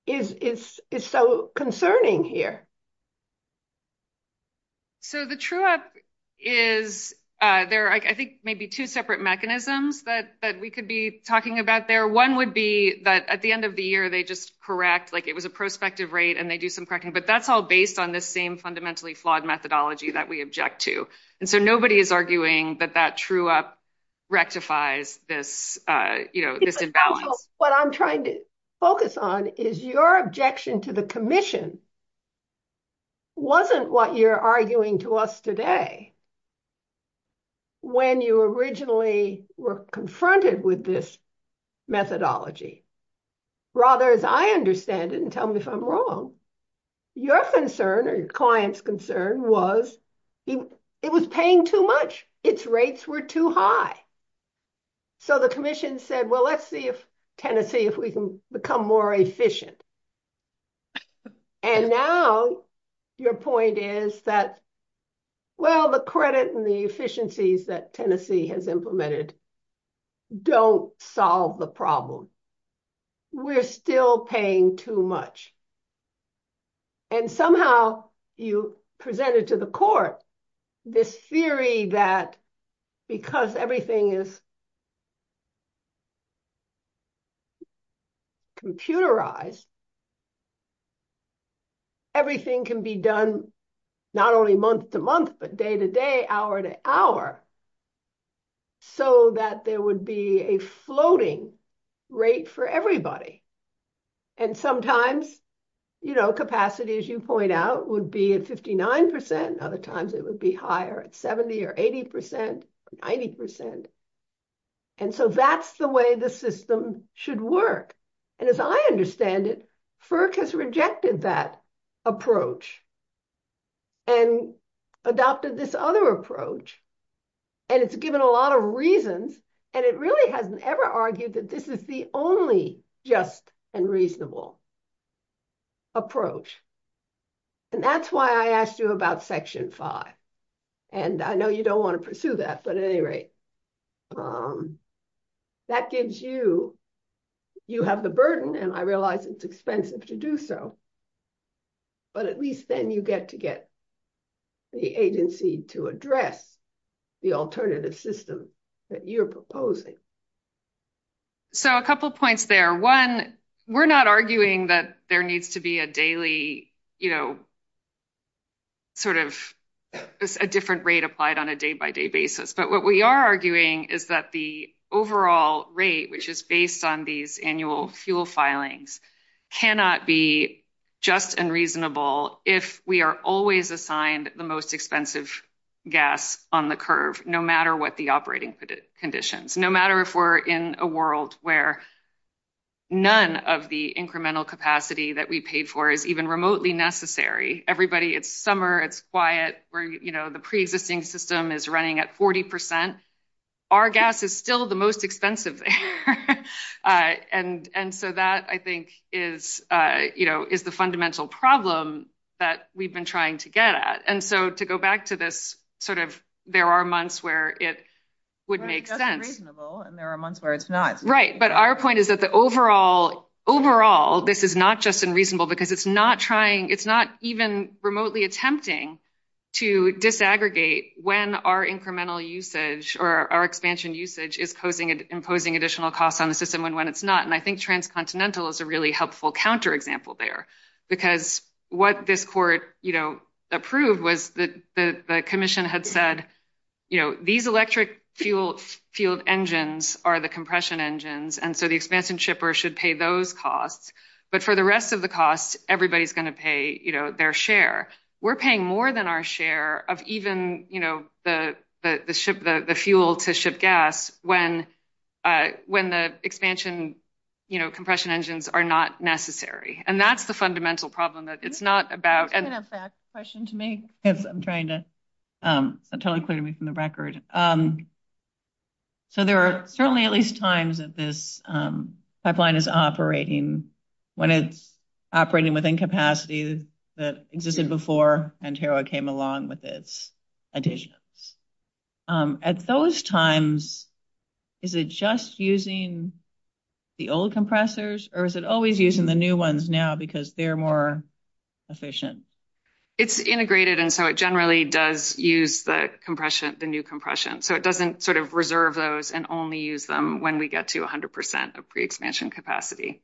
is so concerning here. So the true-up is, there are, I think, maybe two separate mechanisms that we could be talking about there. One would be that, at the end of the year, they just correct, like it was a prospective rate, and they do some correcting, but that's all based on the same fundamentally flawed methodology that we object to. And so nobody is arguing that that true-up rectifies this invalid. What I'm trying to focus on is your objection to the commission wasn't what you're arguing to us today when you originally were confronted with this methodology. Rather, as I understand it, and tell me if I'm wrong, your concern, or your client's concern, was it was paying too much. Its rates were too high. So the commission said, well, let's see if Tennessee, if we can become more efficient. And now your point is that, well, the credit and the efficiencies that Tennessee has implemented don't solve the problem. We're still paying too much. And somehow you presented to the court this theory that, because everything is computerized, everything can be done not only month to month, but day to day, hour to hour, so that there would be a floating rate for everybody. And sometimes capacity, as you point out, would be at 59%. Other times it would be higher at 70% or 80%, 90%. And so that's the way the system should work. And as I understand it, FERC has rejected that approach and adopted this other approach. And it's given a lot of reasons. And it really hasn't ever argued that this is the only just and reasonable approach. And that's why I asked you about section five. And I know you don't wanna pursue that, but at any rate, that gives you, you have the burden, and I realize it's expensive to do so, but at least then you get to get the agency to address the alternative system that you're proposing. So a couple of points there. One, we're not arguing that there needs to be a daily, sort of a different rate applied on a day-by-day basis. But what we are arguing is that the overall rate, which is based on these annual fuel filings, cannot be just and reasonable if we are always assigned the most expensive gas on the curve, no matter what the operating conditions, no matter if we're in a world where none of the incremental capacity that we paid for is even remotely necessary. Everybody, it's summer, it's quiet, where the pre-existing system is running at 40%. Our gas is still the most expensive there. And so that, I think, is the fundamental problem that we've been trying to get at. And so to go back to this, there are months where it would make sense. That's reasonable, and there are months where it's not. Right, but our point is that the overall, overall, this is not just unreasonable because it's not trying, it's not even remotely attempting to disaggregate when our incremental usage or our expansion usage is imposing additional costs on the system and when it's not. And I think transcontinental is a really helpful counterexample there because what this court approved was that the commission had said, these electric fuel engines are the compression engines. And so the expansion shipper should pay those costs. But for the rest of the costs, everybody's gonna pay their share. We're paying more than our share of even the fuel to ship gas when the expansion compression engines are not necessary. And that's the fundamental problem that it's not about. I have a question to make if I'm trying to, that totally cleared me from the record. So there are certainly at least times that this pipeline is operating when it's operating within capacities that existed before Ontario came along with its additions. At those times, is it just using the old compressors or is it always using the new ones now because they're more efficient? It's integrated. And so it generally does use the compression, the new compression. So it doesn't sort of reserve those and only use them when we get to 100% of pre-expansion capacity.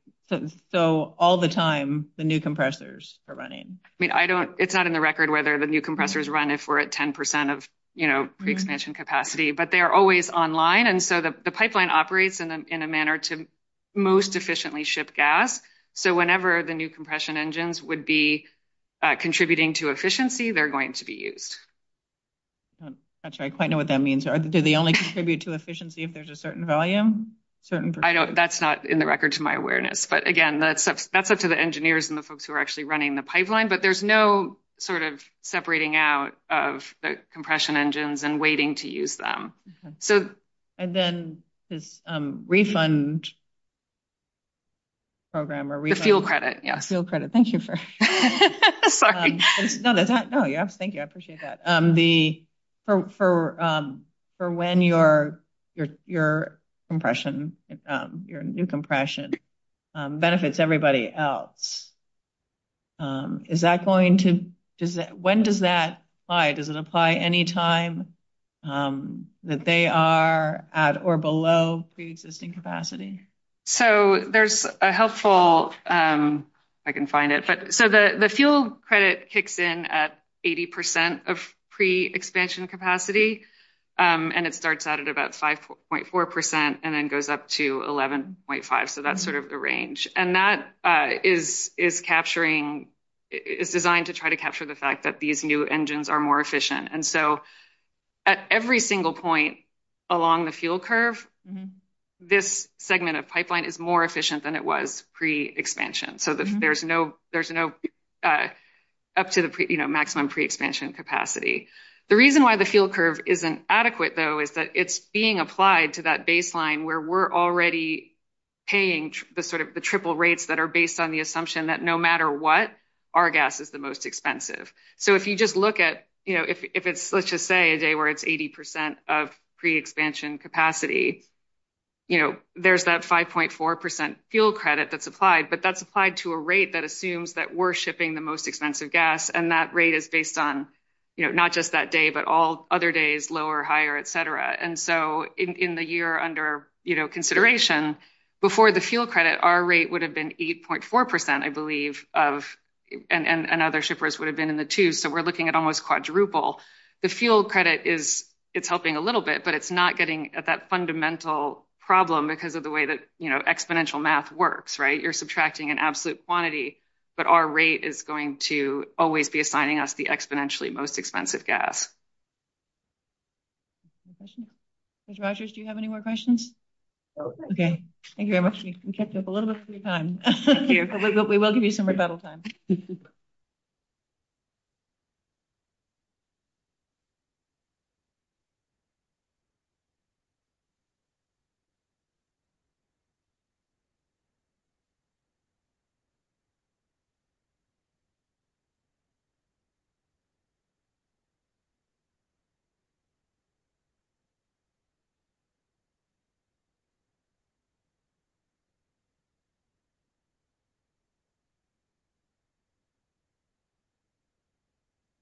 So all the time, the new compressors are running. I mean, it's not in the record whether the new compressors run if we're at 10% of pre-expansion capacity, but they're always online. And so the pipeline operates in a manner to most efficiently ship gas. So whenever the new compression engines would be contributing to efficiency, they're going to be used. I'm not sure I quite know what that means. Do they only contribute to efficiency if there's a certain volume? I know that's not in the record to my awareness, but again, that's up to the engineers and the folks who are actually running the pipeline, but there's no sort of separating out of the compression engines and waiting to use them. So- The fuel credit, yes. The fuel credit, thank you for- Sorry. No, thank you, I appreciate that. The, for when your compression, your new compression benefits everybody else. Is that going to, when does that apply? Does it apply any time that they are at or below pre-existing capacity? So there's a helpful, I can find it. So the fuel credit kicks in at 80% of pre-expansion capacity, and it starts out at about 5.4% and then goes up to 11.5. So that's sort of the range. And that is capturing, it's designed to try to capture the fact that these new engines are more efficient. And so at every single point along the fuel curve, this segment of pipeline is more efficient than it was pre-expansion. So there's no, up to the maximum pre-expansion capacity. The reason why the fuel curve isn't adequate though, is that it's being applied to that baseline where we're already paying the sort of the triple rates that are based on the assumption that no matter what, our gas is the most expensive. So if you just look at, if it's, let's just say a day where it's 80% of pre-expansion capacity, there's that 5.4% fuel credit that's applied, but that's applied to a rate that assumes that we're shipping the most expensive gas. And that rate is based on, not just that day, but all other days, lower, higher, et cetera. And so in the year under consideration, before the fuel credit, our rate would have been 8.4%, I believe of, and other shippers would have been in the two. So we're looking at almost quadruple. The fuel credit is, it's helping a little bit, but it's not getting at that fundamental problem because of the way that exponential math works, right? You're subtracting an absolute quantity, but our rate is going to always be assigning us the exponentially most expensive gas. Mr. Rogers, do you have any more questions? Oh, okay. Thank you very much. You kept up a little bit of free time. We will give you some rebuttal time. Okay.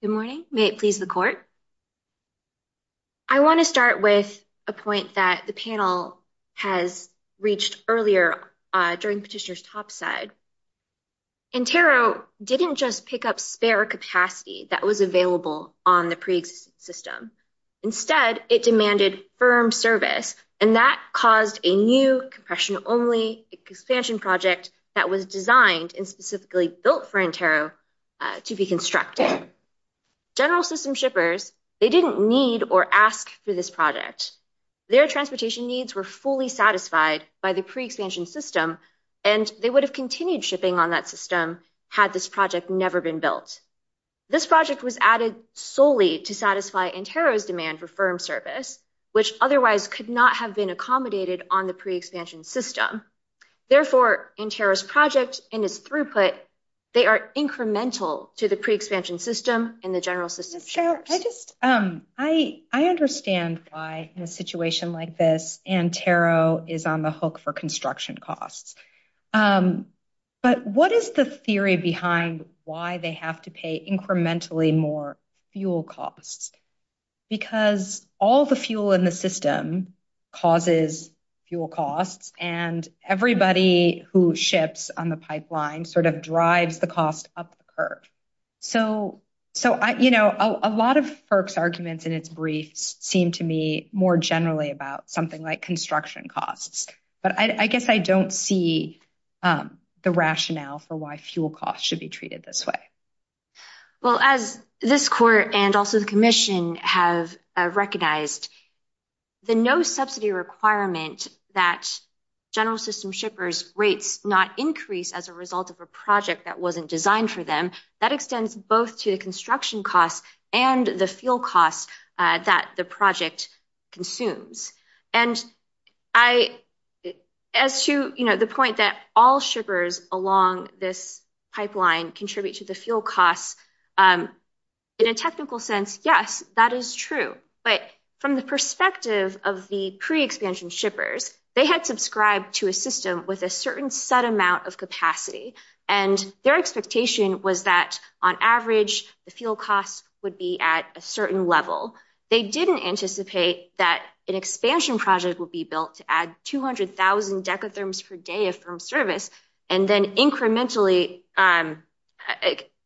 Good morning. May it please the court. I want to start with a point that the panel has reached earlier during Petitioner's top side. Intero didn't just pick up spare capacity that was available on the pre-existing system. Instead, it demanded firm service, and that caused a new compression only expansion project that was designed and specifically built for Intero to be constructed. General system shippers, they didn't need or ask for this project. Their transportation needs were fully satisfied by the pre-expansion system, and they would have continued shipping on that system had this project never been built. This project was added solely to satisfy Intero's demand for firm service, which otherwise could not have been accommodated on the pre-expansion system. Therefore, Intero's project and its throughput, they are incremental to the pre-expansion system and the general system. Sure, I just, I understand why in a situation like this, Intero is on the hook for construction costs. But what is the theory behind why they have to pay incrementally more fuel costs? Because all the fuel in the system causes fuel costs, and everybody who ships on the pipeline sort of drives the cost up the curve. So, you know, a lot of FERC's arguments in its brief seem to me more generally about something like construction costs. But I guess I don't see the rationale for why fuel costs should be treated this way. Well, as this court and also the commission have recognized, the no subsidy requirement that general system shippers rates not increase as a result of a project that wasn't designed for them, that extends both to the construction costs and the fuel costs that the project consumes. And I, as to the point that all shippers along this pipeline contribute to the fuel costs, in a technical sense, yes, that is true. But from the perspective of the pre-expansion shippers, they had subscribed to a system with a certain set amount of capacity. And their expectation was that on average, the fuel costs would be at a certain level. They didn't anticipate that an expansion project would be built to add 200,000 decatherms per day of service, and then incrementally,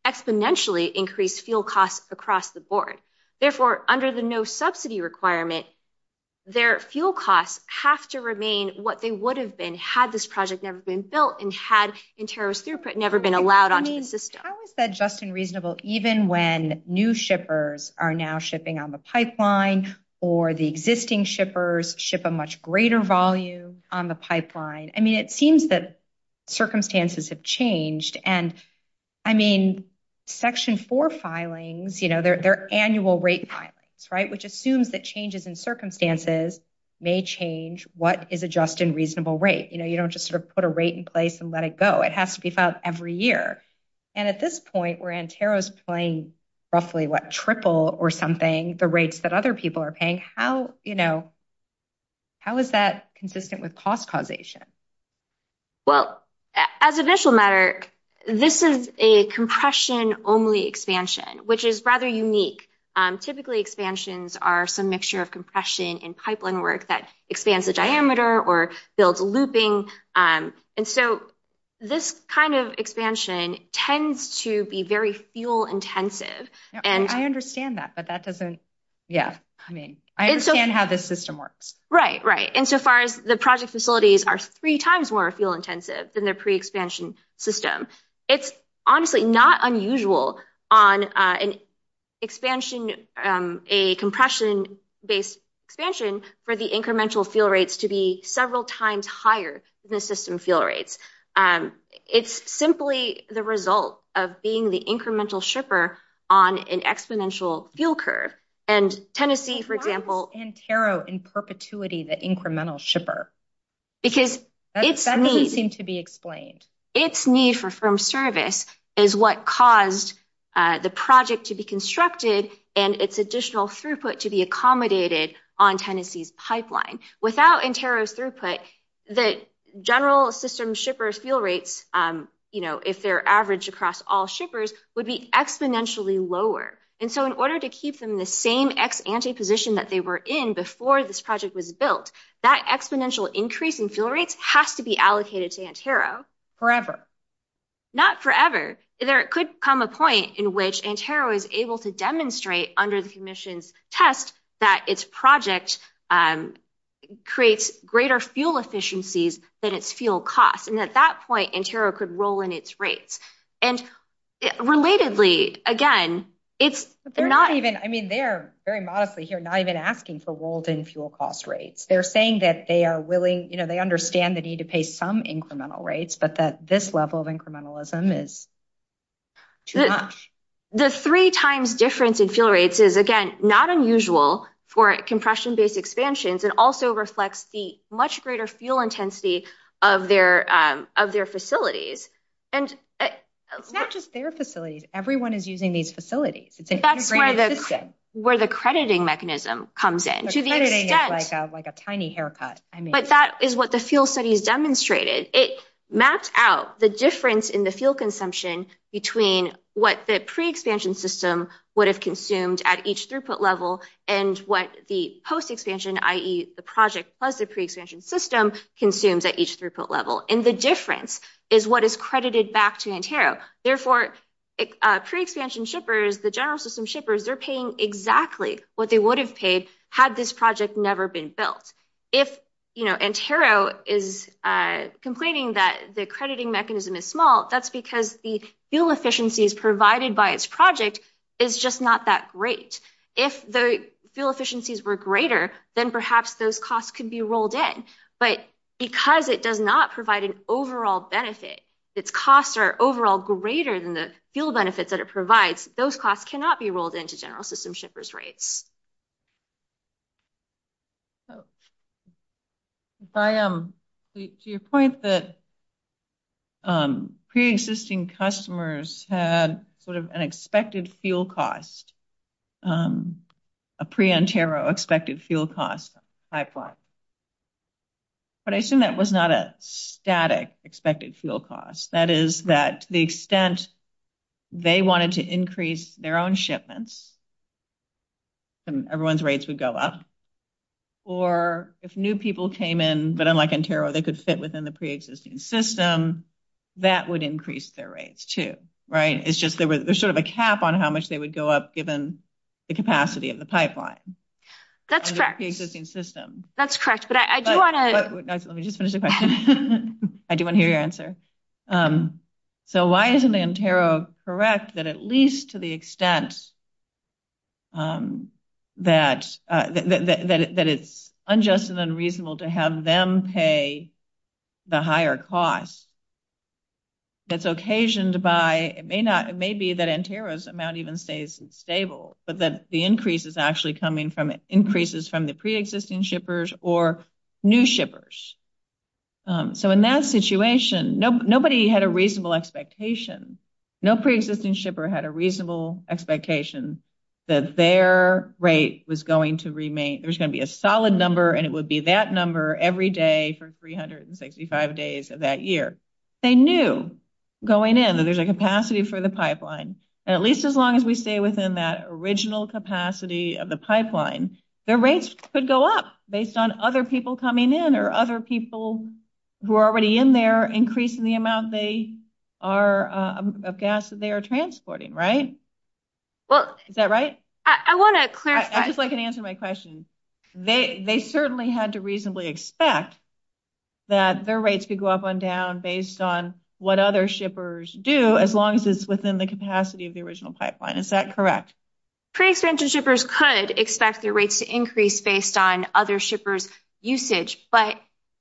exponentially increase fuel costs across the board. Therefore, under the no subsidy requirement, their fuel costs have to remain what they would have been had this project never been built and had interior throughput never been allowed on to the system. I always said just and reasonable, even when new shippers are now shipping on the pipeline or the existing shippers ship a much greater volume on the pipeline. I mean, it seems that circumstances have changed. And I mean, section four filings, they're annual rate filings, right? Which assumes that changes in circumstances may change what is a just and reasonable rate. You know, you don't just sort of put a rate in place and let it go. It has to be found every year. And at this point, where Antero's playing roughly what, triple or something, the rates that other people are paying, how is that consistent with cost causation? Well, as a visual matter, this is a compression only expansion, which is rather unique. Typically expansions are some mixture of compression and pipeline work that expands the diameter or builds looping. And so this kind of expansion tends to be very fuel intensive. And- I understand that, but that doesn't, yeah. I mean, I understand how this system works. Right, right. And so far as the project facilities are three times more fuel intensive than the pre-expansion system. It's honestly not unusual on an expansion, a compression-based expansion for the incremental fuel rates to be several times higher than the system fuel rates. It's simply the result of being the incremental shipper on an exponential fuel curve. And Tennessee, for example- Why is Antero in perpetuity the incremental shipper? Because it's need- That doesn't seem to be explained. It's need for firm service is what caused the project to be constructed and its additional throughput to be accommodated on Tennessee's pipeline. Without Antero throughput, the general system shipper fuel rates, if they're average across all shippers, would be exponentially lower. And so in order to keep them in the same ex-ante position that they were in before this project was built, that exponential increase in fuel rates has to be allocated to Antero. Not forever. There could come a point in which Antero is able to demonstrate under the commission's test that its project creates greater fuel efficiencies than its fuel costs. And at that point, Antero could roll in its rates. And relatedly, again, it's not even- I mean, they're, very modestly here, not even asking for rolled in fuel cost rates. They're saying that they are willing, they understand the need to pay some incremental rates, but that this level of incrementalism is too much. The three times difference in fuel rates is, again, not unusual for compression-based expansions. It also reflects the much greater fuel intensity of their facilities. And- Not just their facilities. Everyone is using these facilities. That's where the crediting mechanism comes in. So crediting is like a tiny haircut. But that is what the fuel study has demonstrated. It maps out the difference in the fuel consumption between what the pre-expansion system would have consumed at each throughput level and what the post-expansion, i.e. the project plus the pre-expansion system, consumes at each throughput level. And the difference is what is credited back to Antero. Therefore, pre-expansion shippers, the general system shippers, they're paying exactly what they would have paid had this project never been built. If Antero is complaining that the crediting mechanism is small, that's because the fuel efficiencies provided by its project is just not that great. If the fuel efficiencies were greater, then perhaps those costs could be rolled in. But because it does not provide an overall benefit, its costs are overall greater than the fuel benefits that it provides, those costs cannot be rolled into general system shippers' rates. So, if I am to your point that pre-existing customers had sort of an expected fuel cost, a pre-Antero expected fuel cost pipeline. But I assume that was not a static expected fuel cost. That is that the extent they wanted to increase their own shipments and everyone's rates would go up. Or if new people came in, but unlike Antero, they could sit within the pre-existing system, that would increase their rates too, right? It's just there was sort of a cap on how much they would go up given the capacity of the pipeline. That's correct. In the pre-existing system. That's correct, but I do wanna. Let me just finish the question. I do wanna hear your answer. So, why isn't the Antero correct that at least to the extent that it's unjust and unreasonable to have them pay the higher cost? That's occasioned by, it may be that Antero's amount even stays stable, but that the increase is actually coming from increases from the pre-existing shippers or new shippers. So, in that situation, nobody had a reasonable expectation. No pre-existing shipper had a reasonable expectation that their rate was going to remain. There's gonna be a solid number and it would be that number every day for 365 days of that year. They knew going in that there's a capacity for the pipeline. And at least as long as we stay within that original capacity of the pipeline, their rates could go up based on other people coming in or other people who are already in there increasing the amount of gas they are transporting, right? Is that right? I wanna clarify. I just wanna answer my question. They certainly had to reasonably expect that their rates could go up and down based on what other shippers do as long as it's within the capacity of the original pipeline, is that correct? Pre-existing shippers could expect their rates to increase based on other shippers' usage, but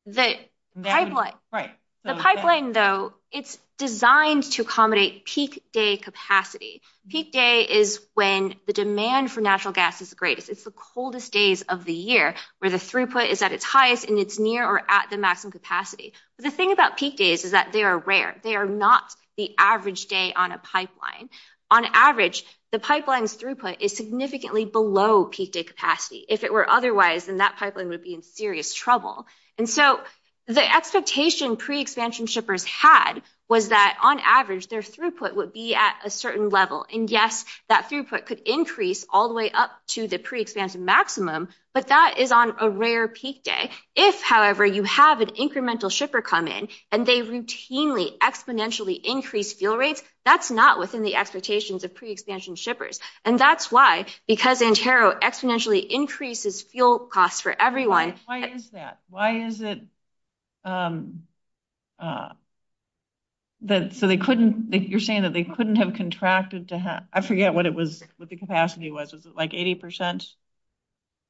the pipeline though, it's designed to accommodate peak day capacity. Peak day is when the demand for natural gas is great. It's the coldest days of the year where the throughput is at its highest and it's near or at the maximum capacity. The thing about peak days is that they are rare. They are not the average day on a pipeline. On average, the pipeline's throughput is significantly below peak day capacity. If it were otherwise, then that pipeline would be in serious trouble. And so the expectation pre-existing shippers had was that on average, their throughput would be at a certain level. And yes, that throughput could increase all the way up to the pre-existing maximum, but that is on a rare peak day. If however, you have an incremental shipper come in and they routinely exponentially increase fuel rates, that's not within the expectations of pre-existing shippers. And that's why, because Antero exponentially increases fuel costs for everyone. Why is that? Why is it that, so they couldn't, if you're saying that they couldn't have contracted to have, I forget what it was, what the capacity was. Was it like 80%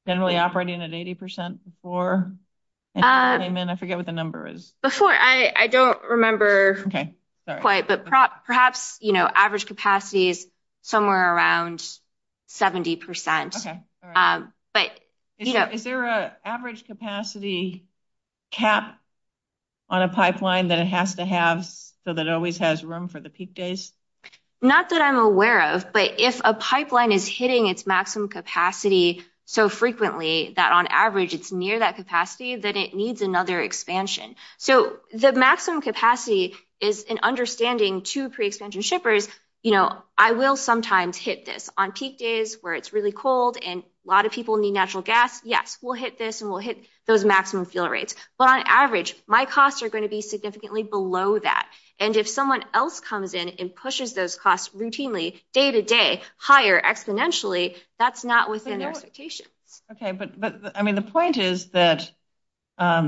generally operating at 80% before? I mean, I forget what the number is. Before, I don't remember quite, but perhaps average capacity is somewhere around 70%. Okay, all right. But, you know. Is there a average capacity cap on a pipeline that it has to have so that it always has room for the peak days? Not that I'm aware of, but if a pipeline is hitting its maximum capacity so frequently that on average it's near that capacity, then it needs another expansion. So the maximum capacity is an understanding to pre-extension shippers. You know, I will sometimes hit this on peak days where it's really cold and a lot of people need natural gas. Yes, we'll hit this and we'll hit those maximum fuel rates. But on average, my costs are gonna be significantly below that. And if someone else comes in and pushes those costs routinely, day to day, higher exponentially, that's not within their expectations. Okay, but I mean, the point is that I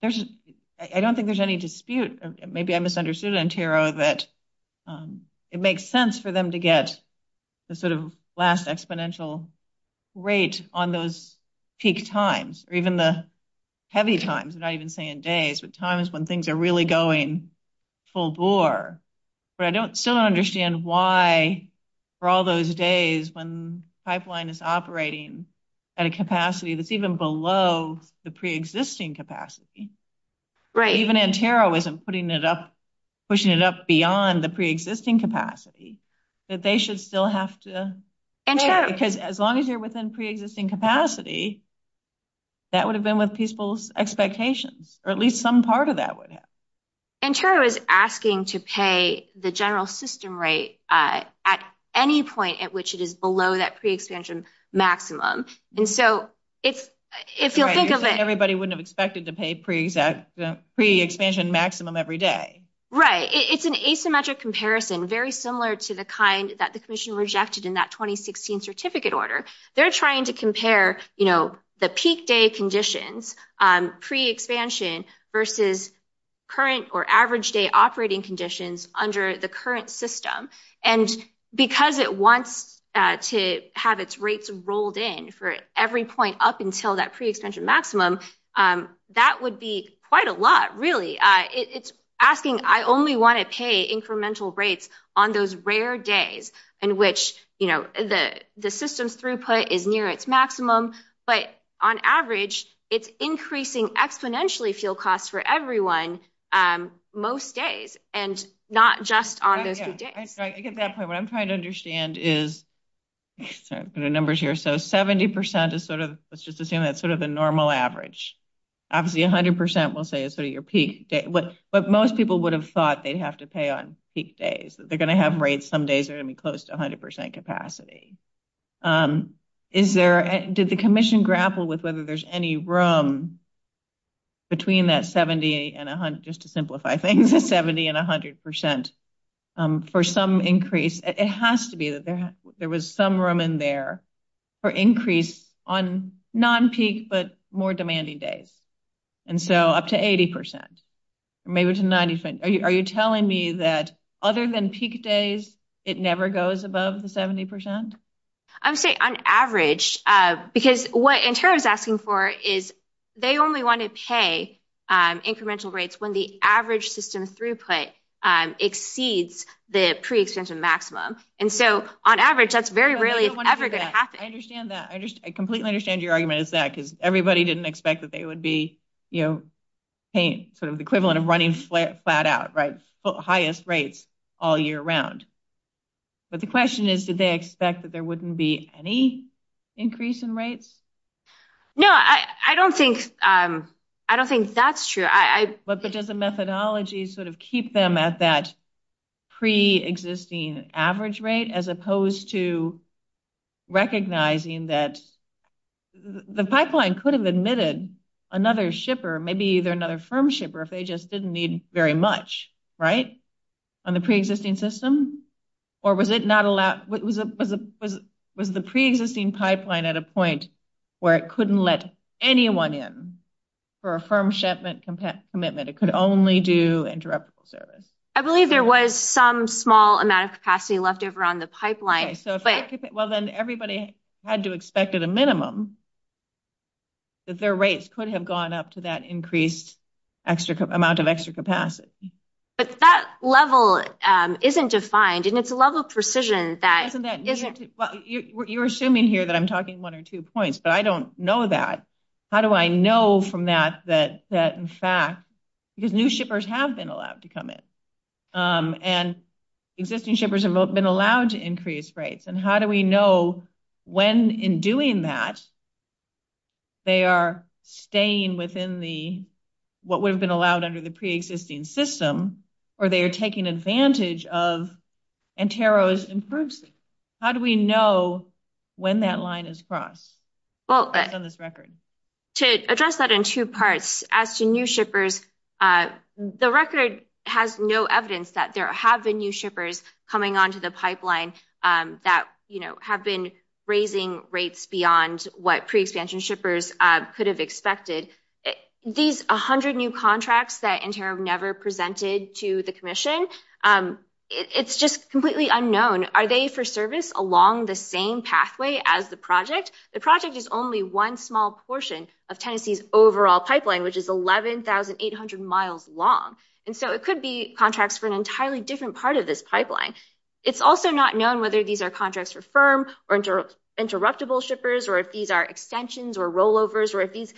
don't think there's any dispute, maybe I misunderstood it on Tiro, that it makes sense for them to get the sort of last exponential rate on those peak times or even the heavy times, not even saying days, but times when things are really going full bore. But I don't still understand why for all those days when pipeline is operating at a capacity that's even below the pre-existing capacity. Right, even in Tiro isn't putting it up, pushing it up beyond the pre-existing capacity, that they should still have to pay. Because as long as you're within pre-existing capacity, that would have been with people's expectations, or at least some part of that would have. And Tiro is asking to pay the general system rate at any point at which it is below that pre-expansion maximum. And so if you'll think of it- Everybody wouldn't have expected to pay pre-expansion maximum every day. Right, it's an asymmetric comparison, very similar to the kind that the commission rejected in that 2016 certificate order. They're trying to compare the peak day conditions, pre-expansion versus current or average day operating conditions under the current system. And because it wants to have its rates rolled in for every point up until that pre-expansion maximum, that would be quite a lot really. It's asking, I only want to pay incremental rates on those rare days in which the system's throughput is near its maximum. But on average, it's increasing exponentially fuel costs for everyone, most days, and not just on those few days. I get that point. What I'm trying to understand is, sorry, put the numbers here. So 70% is sort of, let's just assume that's sort of a normal average. Obviously 100% we'll say is sort of your peak day. But most people would have thought they'd have to pay on peak days, that they're gonna have rates some days that are gonna be close to 100% capacity. Did the commission grapple with whether there's any room between that 70 and 100, just to simplify things, 70 and 100% for some increase? It has to be that there was some room in there for increase on non-peak but more demanding days. And so up to 80%, maybe to 90%. Are you telling me that other than peak days, it never goes above the 70%? I'm saying on average, because what insurance is asking for is they only want to pay incremental rates when the average system's throughput exceeds the pre-extension maximum. And so on average, that's very rarely ever gonna happen. I understand that, I completely understand your argument is that, because everybody didn't expect that they would be, paying sort of the equivalent of running flat out, highest rates all year round. But the question is, did they expect that there wouldn't be any increase in rates? No, I don't think that's true. But does the methodology sort of keep them at that pre-existing average rate, as opposed to recognizing that the pipeline could have admitted another shipper, maybe either another firm shipper if they just didn't need very much, right? On the pre-existing system? Or was it not allowed, was the pre-existing pipeline at a point where it couldn't let anyone in for a firm shipment commitment? It could only do interoperable service. I believe there was some small amount of capacity left over on the pipeline. Well, then everybody had to expect at a minimum that their rates could have gone up to that increased extra amount of extra capacity. But that level isn't defined, and it's a level of precision that isn't- Well, you're assuming here that I'm talking one or two points, but I don't know that. How do I know from that that, in fact, because new shippers have been allowed to come in, and existing shippers have been allowed to increase rates. And how do we know when, in doing that, they are staying within what would have been allowed under the pre-existing system, or they are taking advantage of Antero's inferences? How do we know when that line is crossed? Well- Based on this record. To address that in two parts, as to new shippers, the record has no evidence that there have been new shippers coming onto the pipeline that have been raising rates beyond what pre-extension shippers could have expected. These 100 new contracts that Antero never presented to the commission, it's just completely unknown. Are they for service along the same pathway as the project? The project is only one small portion of Tennessee's overall pipeline, which is 11,800 miles long. And so it could be contracts for an entirely different part of this pipeline. It's also not known whether these are contracts for firm or interruptible shippers, or if these are extensions or rollovers, or if these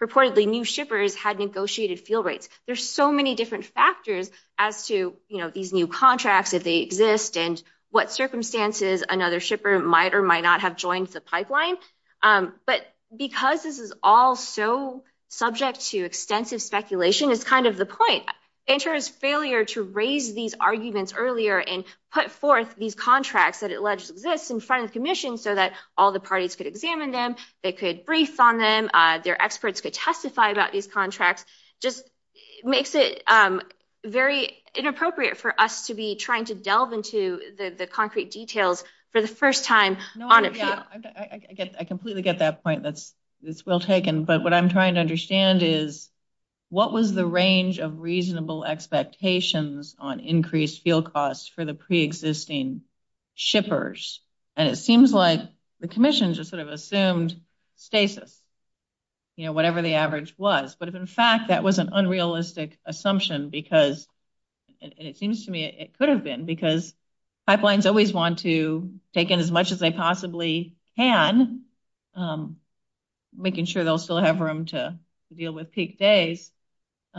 purportedly new shippers had negotiated fuel rates. There's so many different factors as to these new contracts, if they exist, and what circumstances another shipper might or might not have joined the pipeline. But because this is all so subject to extensive speculation is kind of the point. Antero's failure to raise these arguments earlier and put forth these contracts that alleged to exist in front of the commission so that all the parties could examine them, they could brief on them, their experts could testify about these contracts, just makes it very inappropriate for us to be trying to delve into the concrete details for the first time on its own. I completely get that point. That's well taken. But what I'm trying to understand is what was the range of reasonable expectations on increased fuel costs for the preexisting shippers? And it seems like the commission just sort of assumed stasis, whatever the average was. But if in fact, that was an unrealistic assumption because it seems to me it could have been because pipelines always want to take in as much as they possibly can, making sure they'll still have room to deal with peak days, that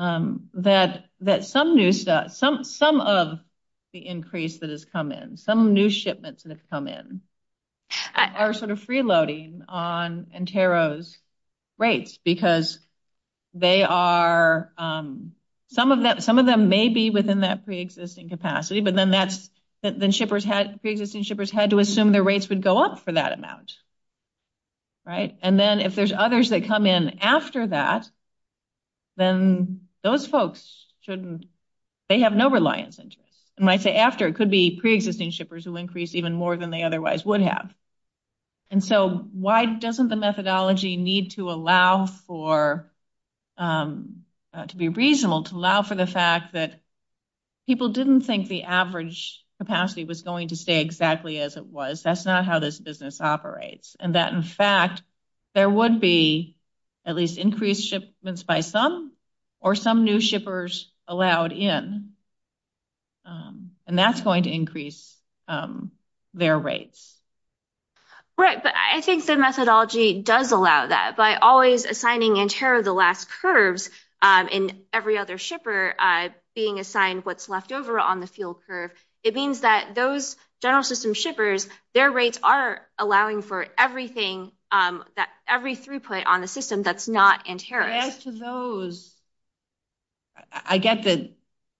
some of the increase that has come in, some new shipments that have come in are sort of freeloading on Antero's rates because some of them may be within that preexisting capacity but then preexisting shippers had to assume their rates would go up for that amount, right? And then if there's others that come in after that, then those folks shouldn't, they have no reliance. And I say after, it could be preexisting shippers who increase even more than they otherwise would have. And so why doesn't the methodology need to allow for, to be reasonable to allow for the fact that people didn't think the average capacity was going to stay exactly as it was. That's not how this business operates. And that in fact, there would be at least increased shipments by some or some new shippers allowed in. And that's going to increase their rates. Right, but I think the methodology does allow that by always assigning Antero the last curves and every other shipper being assigned what's left over on the field curve. It means that those general system shippers, their rates are allowing for everything, every throughput on the system that's not Antero. As to those, I get that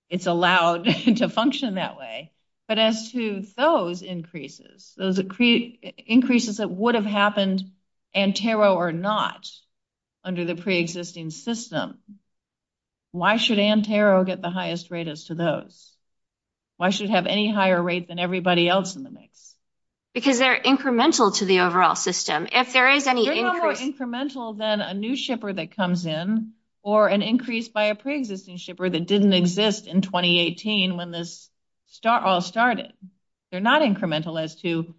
it's allowed to function that way but as to those increases, those increases that would have happened Antero or not under the pre-existing system, why should Antero get the highest rate as to those? Why should it have any higher rate than everybody else in the mix? Because they're incremental to the overall system. If there is any increase- They're more incremental than a new shipper that comes in or an increase by a pre-existing shipper that didn't exist in 2018 when this all started. They're not incremental as to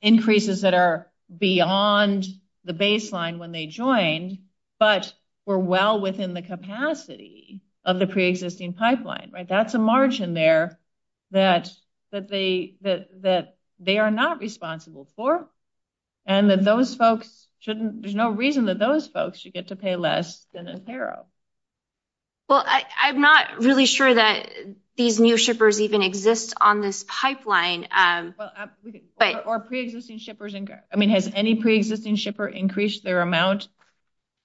increases that are beyond the baseline when they joined but were well within the capacity of the pre-existing pipeline. That's a margin there that they are not responsible for and that those folks shouldn't, there's no reason that those folks should get to pay less than Antero. Well, I'm not really sure that these new shippers even exist on this pipeline. Or pre-existing shippers, I mean, has any pre-existing shipper increased their amount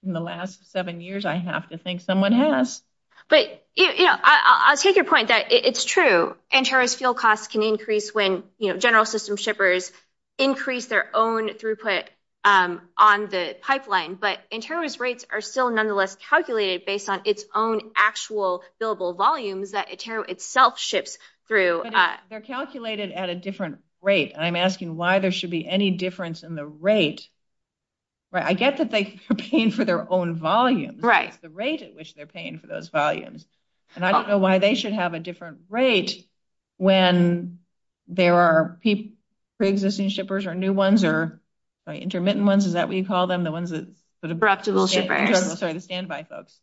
in the last seven years? I have to think someone has. But I'll take your point that it's true. Antero's fuel costs can increase when general system shippers increase their own throughput on the pipeline, but Antero's rates are still nonetheless calculated based on its own actual billable volumes that Antero itself ships through. They're calculated at a different rate. I'm asking why there should be any difference in the rate. I get that they're paying for their own volumes. The rate at which they're paying for those volumes. And I don't know why they should have a different rate when there are pre-existing shippers or new ones or intermittent ones, is that what you call them? The ones that sort of- Reputable shipper. Sorry, the standby folks.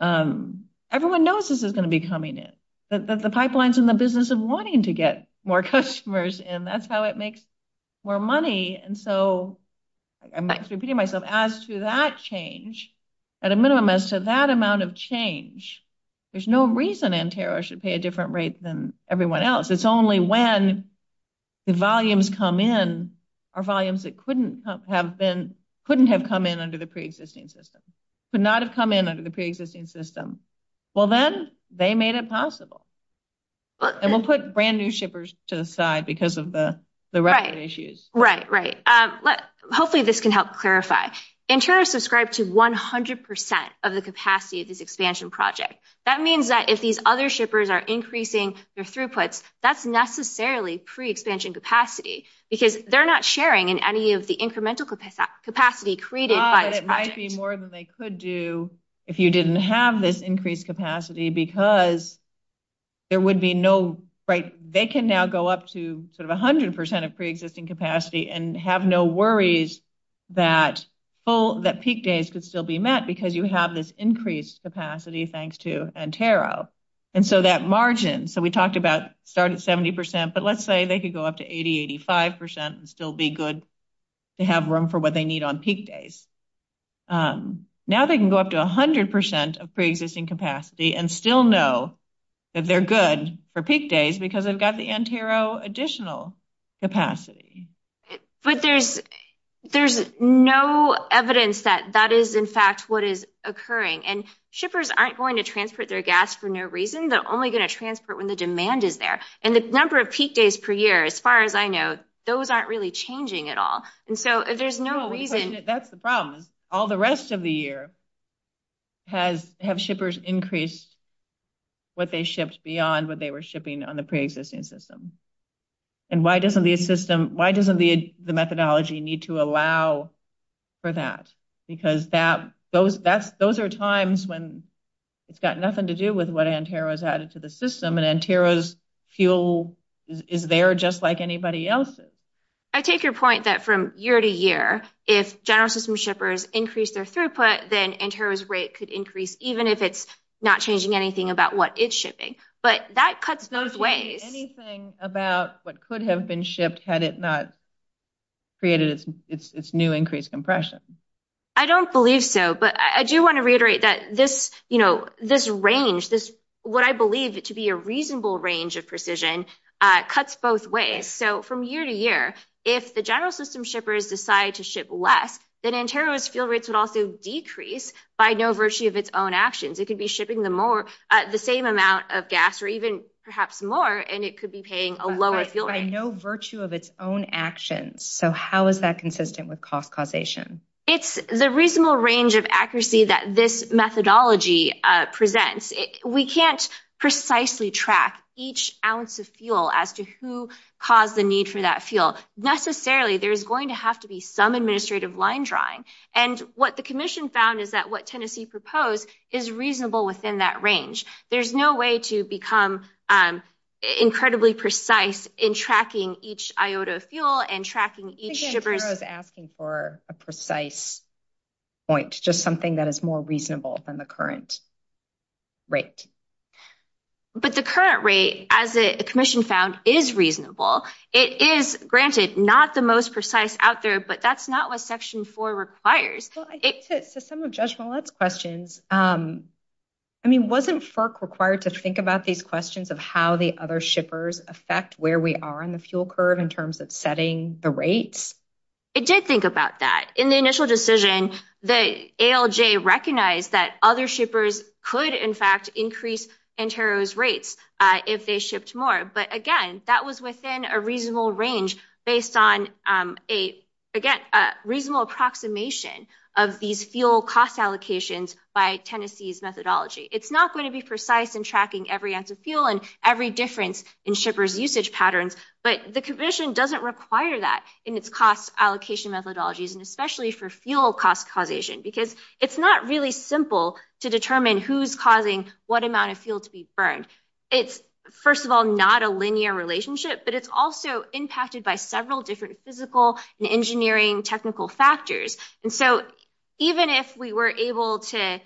Everyone knows this is gonna be coming in. The pipeline's in the business of wanting to get more customers in. That's how it makes more money. And so, I'm repeating myself, as to that change, at a minimum, as to that amount of change, there's no reason Antero should pay a different rate than everyone else. It's only when the volumes come in are volumes that couldn't have come in under the pre-existing system. Could not have come in under the pre-existing system. Well then, they made it possible. And we'll put brand new shippers to the side because of the record issues. Right, right. Hopefully this can help clarify. Antero's subscribed to 100% of the capacity of this expansion project. That means that if these other shippers are increasing their throughput, that's necessarily pre-expansion capacity because they're not sharing in any of the incremental capacity created by the project. Well, it might be more than they could do if you didn't have this increased capacity because there would be no, right, they can now go up to sort of 100% of pre-existing capacity and have no worries that peak days could still be met because you have this increased capacity thanks to Antero. And so that margin, so we talked about starting at 70%, but let's say they could go up to 80, 85% and still be good to have room for what they need on peak days. Now they can go up to 100% of pre-existing capacity and still know that they're good for peak days because they've got the Antero additional capacity. But there's no evidence that that is, in fact, what is occurring. And shippers aren't going to transport their gas for no reason. They're only gonna transport when the demand is there. And the number of peak days per year, as far as I know, those aren't really changing at all. And so if there's no reason- That's the problem. All the rest of the year has, have shippers increased what they shipped beyond what they were shipping on the pre-existing system. And why doesn't the system, why doesn't the methodology need to allow for that? Because those are times when it's got nothing to do with what Antero has added to the system and Antero's fuel is there just like anybody else's. I take your point that from year to year, if general system shippers increase their throughput, then Antero's rate could increase even if it's not changing anything about what it's shipping. But that cuts those ways. Anything about what could have been shipped had it not created its new increased compression? I don't believe so. But I do want to reiterate that this range, what I believe to be a reasonable range of precision cuts both ways. So from year to year, if the general system shippers decide to ship less, then Antero's fuel rates would also decrease by no virtue of its own actions. It could be shipping the more, the same amount of gas or even perhaps more, and it could be paying a lower fuel rate. By no virtue of its own actions. So how is that consistent with cost causation? It's the reasonable range of accuracy that this methodology presents. We can't precisely track each ounce of fuel as to who caused the need for that fuel. Necessarily, there's going to have to be some administrative line drawing. And what the commission found is that what Tennessee proposed is reasonable within that range. There's no way to become incredibly precise in tracking each iota of fuel and tracking each shipper's- I think Antero's asking for a precise point, just something that is more reasonable than the current rate. But the current rate, as the commission found, is reasonable. It is, granted, not the most precise out there, but that's not what section four requires. Well, I think that for some of Judge Millett's questions, I mean, wasn't FERC required to think about these questions of how the other shippers affect where we are on the fuel curve in terms of setting the rates? It did think about that. In the initial decision, the ALJ recognized that other shippers could, in fact, increase Antero's rates if they shipped more. But again, that was within a reasonable range based on, again, a reasonable approximation of these fuel cost allocations by Tennessee's methodology. It's not going to be precise in tracking every ounce of fuel and every difference in shippers' usage patterns, but the commission doesn't require that in its cost allocation methodologies, and especially for fuel cost causation, because it's not really simple to determine who's causing what amount of fuel to be burned. It's, first of all, not a linear relationship, but it's also impacted by several different physical and engineering technical factors. And so even if we were able to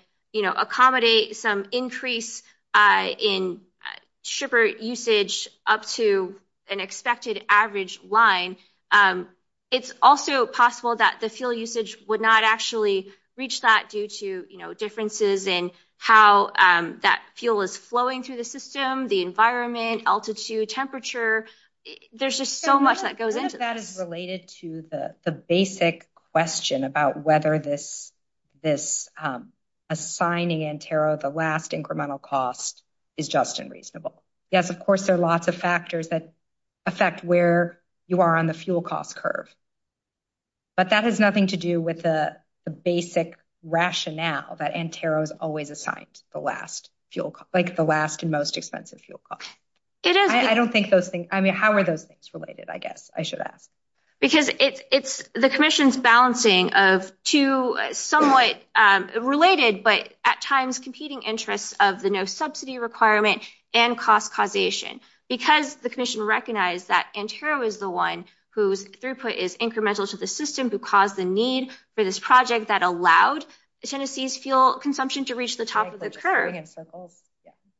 accommodate some increase in shipper usage up to an expected average line, it's also possible that the fuel usage would not actually reach that due to differences in how that fuel is flowing through the system, the environment, altitude, temperature. There's just so much that goes into this. I think that is related to the basic question about whether this assigning Antero the last incremental cost is just and reasonable. Yes, of course, there are lots of factors that affect where you are on the fuel cost curve, but that has nothing to do with the basic rationale that Antero's always assigned the last fuel, like the last and most expensive fuel cost. It is. I don't think those things, I mean, how are those things related? I guess I should ask. Because it's the commission's balancing of two somewhat related, but at times competing interests of the no subsidy requirement and cost causation, because the commission recognized that Antero is the one whose throughput is incremental to the system who caused the need for this project that allowed Tennessee's fuel consumption to reach the top of the curve.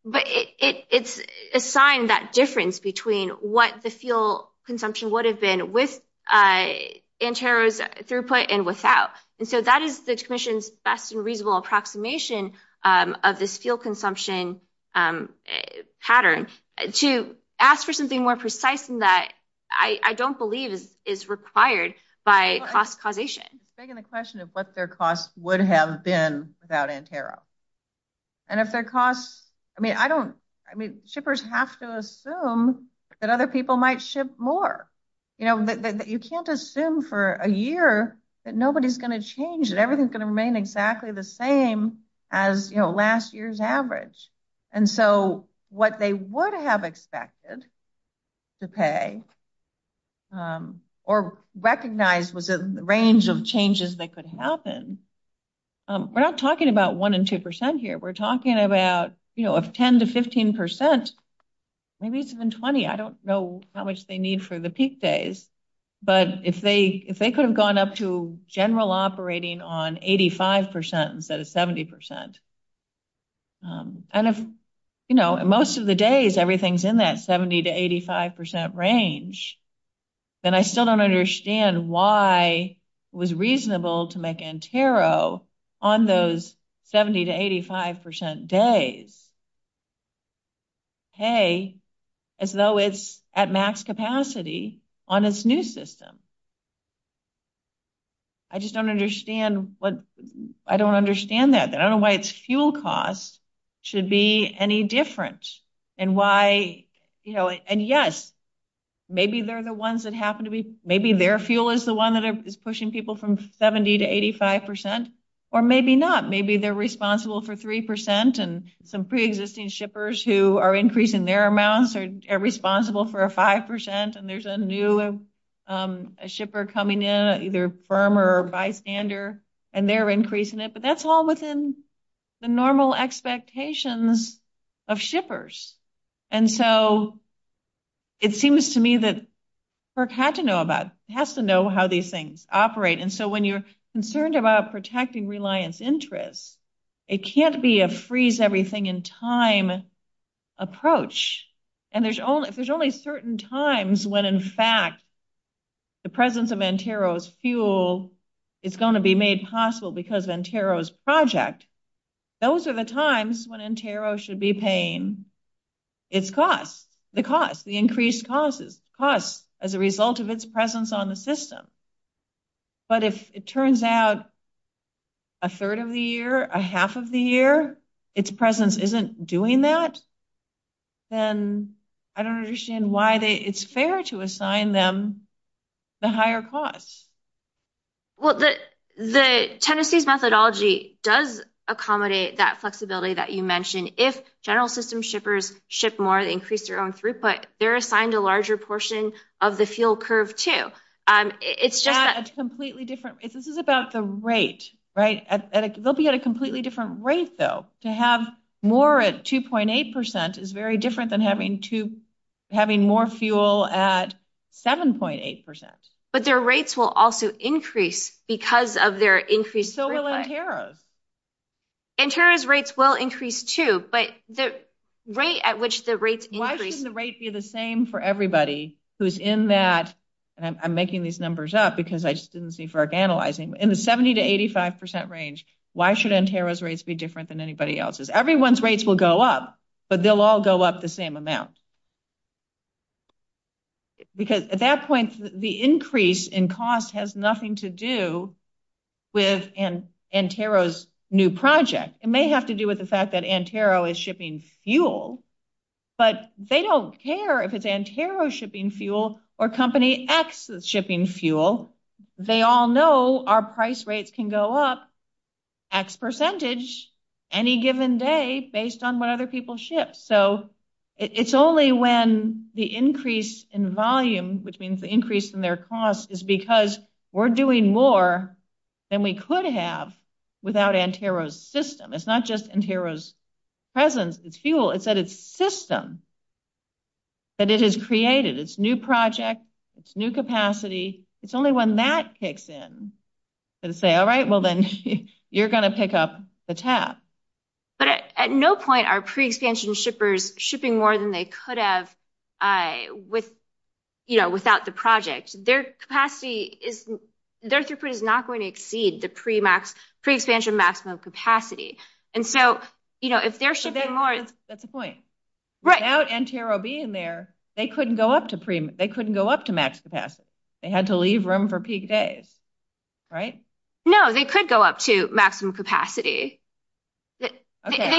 But it's assigned that difference between what the fuel consumption would have been with Antero's throughput and without. And so that is the commission's best and reasonable approximation of the fuel consumption pattern. To ask for something more precise than that, I don't believe is required by cost causation. Begging the question of what their costs would have been without Antero. And if their costs, I mean, I don't, I mean, shippers have to assume that other people might ship more. You know, you can't assume for a year that nobody's gonna change and everything's gonna remain exactly the same as, you know, last year's average. And so what they would have expected to pay or recognize was a range of changes that could happen. We're not talking about one and 2% here. We're talking about, you know, of 10 to 15%, maybe even 20, I don't know how much they need for the peak days. But if they could have gone up to general operating on 85% instead of 70%, and if, you know, most of the days everything's in that 70 to 85% range, then I still don't understand why it was reasonable to make Antero on those 70 to 85% days pay as though it's at max capacity on its new system. I just don't understand what, I don't understand that. I don't know why its fuel cost should be any different and why, you know, and yes, maybe they're the ones that happen to be, maybe their fuel is the one that is pushing people from 70 to 85% or maybe not. Maybe they're responsible for 3% and some pre-existing shippers who are increasing their amounts are responsible for a 5% and there's a new shipper coming in, either firm or bystander, and they're increasing it. But that's all within the normal expectations of shippers. And so it seems to me that FERC had to know about, has to know how these things operate. And so when you're concerned about protecting reliance interests, it can't be a freeze everything in time approach. And there's only certain times when in fact the presence of Antero's fuel is gonna be made possible because of Antero's project. Those are the times when Antero should be paying its costs, the costs, the increased costs as a result of its presence on the system. But if it turns out a third of the year, a half of the year, its presence isn't doing that, then I don't understand why it's fair to assign them the higher costs. Well, the Tennessee's methodology does accommodate that flexibility that you mentioned. If general system shippers ship more, they increase their own throughput, they're assigned a larger portion of the fuel curve too. It's just- That's completely different. This is about the rate, right? They'll be at a completely different rate though. To have more at 2.8% is very different than having more fuel at 7.8%. But their rates will also increase because of their increased throughput. So will Antero's. Antero's rates will increase too, but the rate at which the rates increase- Why shouldn't the rate be the same for everybody who's in that, and I'm making these numbers up because I just didn't see for our analyzing, in the 70 to 85% range, why should Antero's rates be different than anybody else's? Everyone's rates will go up, but they'll all go up the same amount. Because at that point, the increase in cost has nothing to do with Antero's new project. It may have to do with the fact that Antero is shipping fuel, but they don't care if it's Antero shipping fuel or company X that's shipping fuel. They all know our price rates can go up X percentage any given day based on what other people ship. So it's only when the increase in volume, which means the increase in their cost, is because we're doing more than we could have without Antero's system. It's not just Antero's presence, it's fuel, it's that it's system that it has created. It's new project, it's new capacity. It's only when Matt kicks in and say, all right, well then you're gonna pick up the tap. But at no point are pre-expansion shippers shipping more than they could have without the project. Their capacity is not going to exceed the pre-expansion maximum capacity. And so if they're shipping more- That's the point. Right. Without Antero being there, they couldn't go up to max capacity. They had to leave room for PKs, right? No, they could go up to maximum capacity. Okay,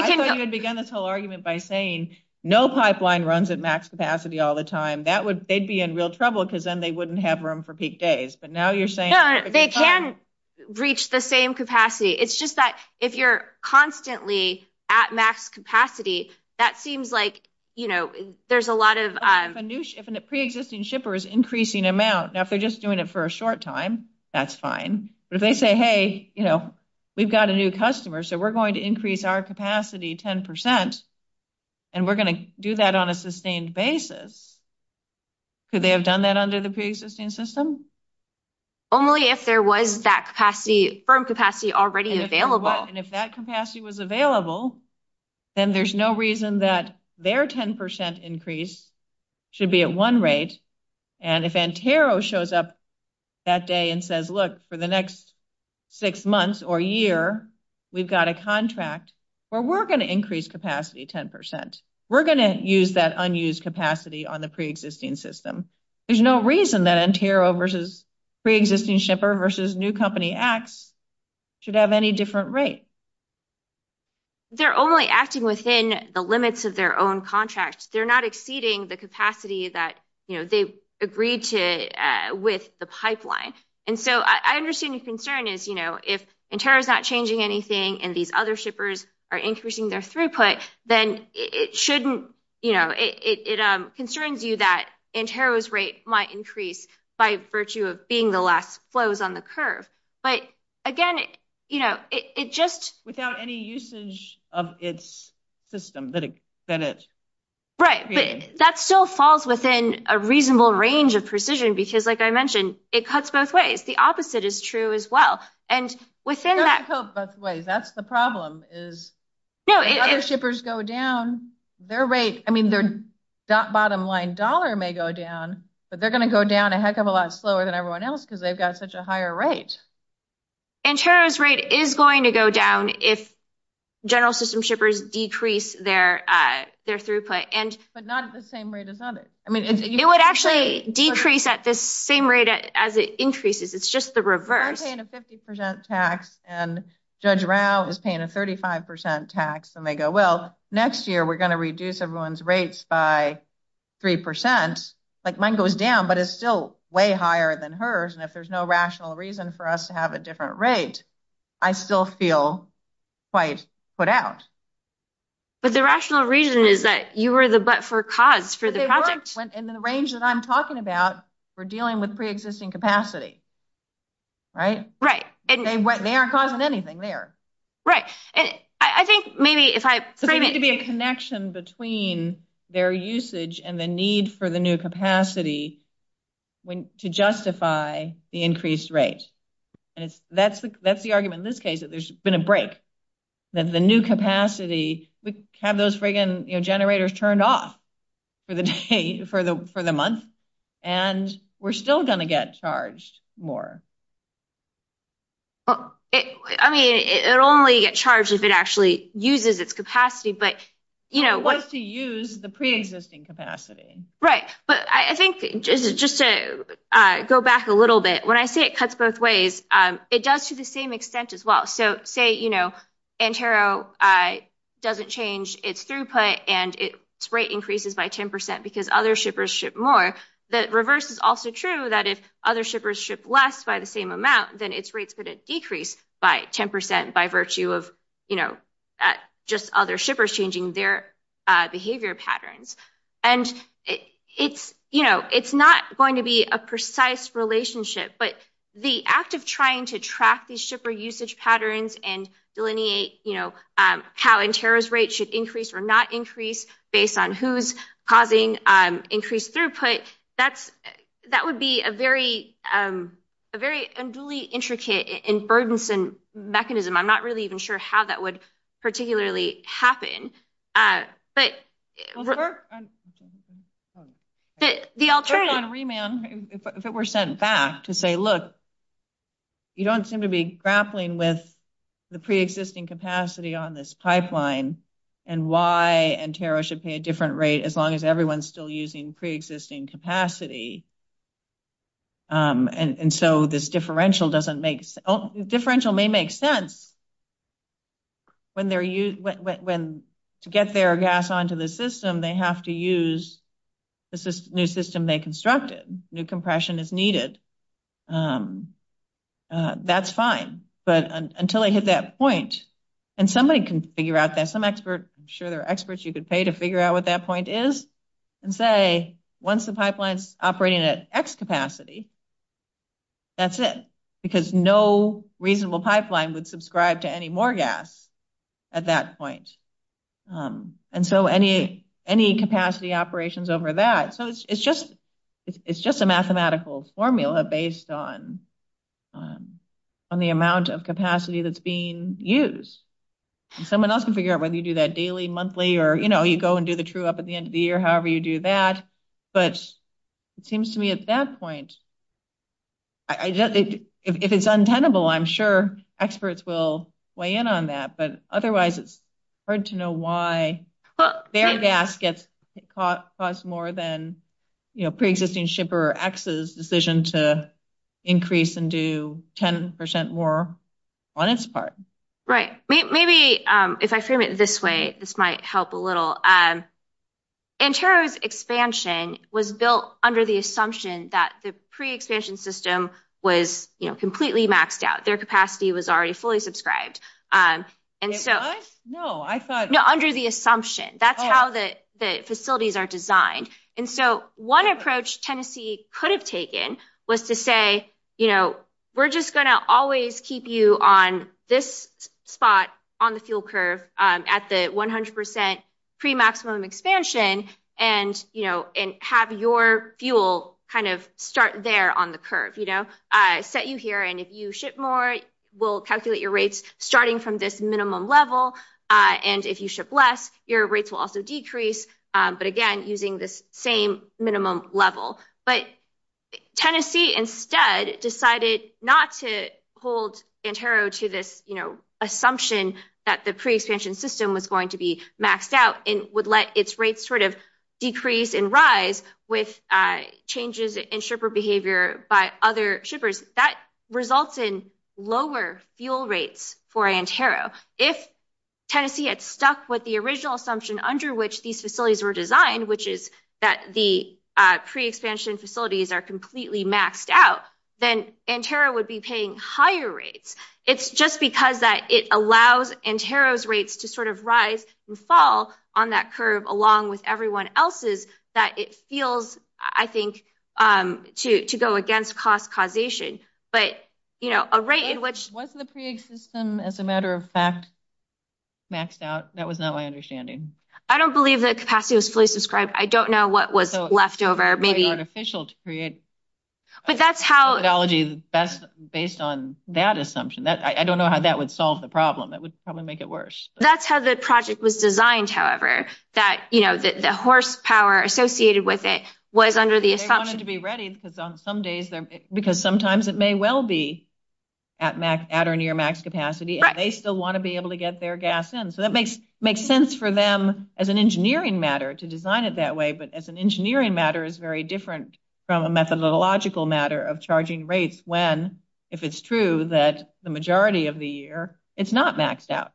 I thought you would begin this whole argument by saying no pipeline runs at max capacity all the time. They'd be in real trouble because then they wouldn't have room for PKs. But now you're saying- No, they can reach the same capacity. It's just that if you're constantly at max capacity, that seems like there's a lot of- If a pre-existing shipper is increasing amount, now if they're just doing it for a short time, that's fine. But if they say, hey, we've got a new customer, so we're going to increase our capacity 10%, and we're going to do that on a sustained basis, could they have done that under the pre-existing system? Only if there was that capacity, firm capacity already available. And if that capacity was available, then there's no reason that their 10% increase should be at one rate. And if Antero shows up that day and says, look, for the next six months or year, we've got a contract where we're going to increase capacity 10%, we're going to use that unused capacity on the pre-existing system. There's no reason that Antero versus pre-existing shipper versus new company acts should have any different rate. They're only acting within the limits of their own contract. They're not exceeding the capacity that they agreed to with the pipeline. And so I understand the concern is, if Antero is not changing anything and these other shippers are increasing their throughput, then it shouldn't, it concerns you that Antero's rate might increase by virtue of being the last flows on the curve. But again, it just- Without any usage of its system that it- Right, but that still falls within a reasonable range of precision because like I mentioned, it cuts both ways. The opposite is true as well. And within that- It doesn't cut both ways. That's the problem is if other shippers go down, their rate, I mean, their bottom line dollar may go down, but they're going to go down a heck of a lot slower than everyone else because they've got such a higher rate. Antero's rate is going to go down if general system shippers decrease their throughput and- But not at the same rate as others. I mean- It would actually decrease at the same rate as it increases. It's just the reverse. I'm paying a 50% tax and Judge Rao is paying a 35% tax and they go, well, next year, we're going to reduce everyone's rates by 3%. Like mine goes down, but it's still way higher than hers. And if there's no rational reason for us to have a different rate, I still feel quite put out. But the rational reason is that you were the butt for CODS for the past- They weren't in the range that I'm talking about for dealing with pre-existing capacity, right? Right. They weren't causing anything there. Right. I think maybe if I- There needs to be a connection between their usage and the need for the new capacity to justify the increased rate. And that's the argument in this case, that there's been a break. That the new capacity, we have those frigging generators turned off for the month and we're still going to get charged more. I mean, it'll only get charged if it actually uses its capacity, but you know- It wants to use the pre-existing capacity. Right. But I think just to go back a little bit, when I say it cuts both ways, it does to the same extent as well. So say, you know, Antero doesn't change its throughput and its rate increases by 10% because other shippers ship more. The reverse is also true, that if other shippers ship less by the same amount, then its rates could have decreased by 10% by virtue of just other shippers changing their behavior patterns. And it's not going to be a precise relationship, but the act of trying to track these shipper usage patterns and delineate, you know, how Antero's rate should increase or not increase based on who's causing increased throughput. That's, that would be a very, a very unduly intricate and burdensome mechanism. I'm not really even sure how that would particularly happen, but- The alternative- If it came in, if it were sent back to say, look, you don't seem to be grappling with the preexisting capacity on this pipeline and why Antero should pay a different rate as long as everyone's still using preexisting capacity. And so this differential doesn't make, differential may make sense when they're used, when to get their gas onto the system, when they have to use the new system they constructed, new compression is needed. That's fine, but until they hit that point, and somebody can figure out that, some expert, I'm sure there are experts you could pay to figure out what that point is, and say, once the pipeline's operating at X capacity, that's it, because no reasonable pipeline would subscribe to any more gas at that point. And so any capacity operations over that, so it's just a mathematical formula based on the amount of capacity that's being used. Someone else can figure out whether you do that daily, monthly, or you go and do the true up at the end of the year, however you do that. But it seems to me at that point, if it's untenable, I'm sure experts will weigh in on that, but otherwise it's hard to know why their gas gets cost more than pre-existing shipper X's decision to increase and do 10% more on its part. Right, maybe if I frame it this way, this might help a little. In terms of expansion was built under the assumption that the pre-expansion system was completely maxed out. Their capacity was already fully subscribed. And so, no, under the assumption, that's how the facilities are designed. And so one approach Tennessee could have taken was to say, we're just gonna always keep you on this spot on the fuel curve at the 100% pre-maximum expansion and have your fuel kind of start there on the curve. Set you here and if you ship more, we'll calculate your rates starting from this minimum level. And if you ship less, your rates will also decrease. But again, using the same minimum level. But Tennessee instead decided not to hold Antero to this assumption that the pre-expansion system was going to be maxed out and would let its rates sort of decrease and rise with changes in shipper behavior by other shippers. That results in lower fuel rates for Antero. If Tennessee had stuck with the original assumption under which these facilities were designed, which is that the pre-expansion facilities are completely maxed out, then Antero would be paying higher rates. It's just because that it allows Antero's rates to sort of rise and fall on that curve along with everyone else's that it feels, I think, to go against cost causation. But a rate in which- Wasn't the pre-expansion system, as a matter of fact, maxed out? That was not my understanding. I don't believe that capacity was fully subscribed. I don't know what was left over. Maybe unofficial to create. But that's how- The methodology is based on that assumption. I don't know how that would solve the problem. It would probably make it worse. That's how the project was designed, however. That the horsepower associated with it was under the assumption- They wanted to be ready because on some days, because sometimes it may well be at or near max capacity, and they still want to be able to get their gas in. So that makes sense for them as an engineering matter to design it that way. But as an engineering matter, it's very different from a methodological matter of charging rates when, if it's true, that the majority of the year, it's not maxed out.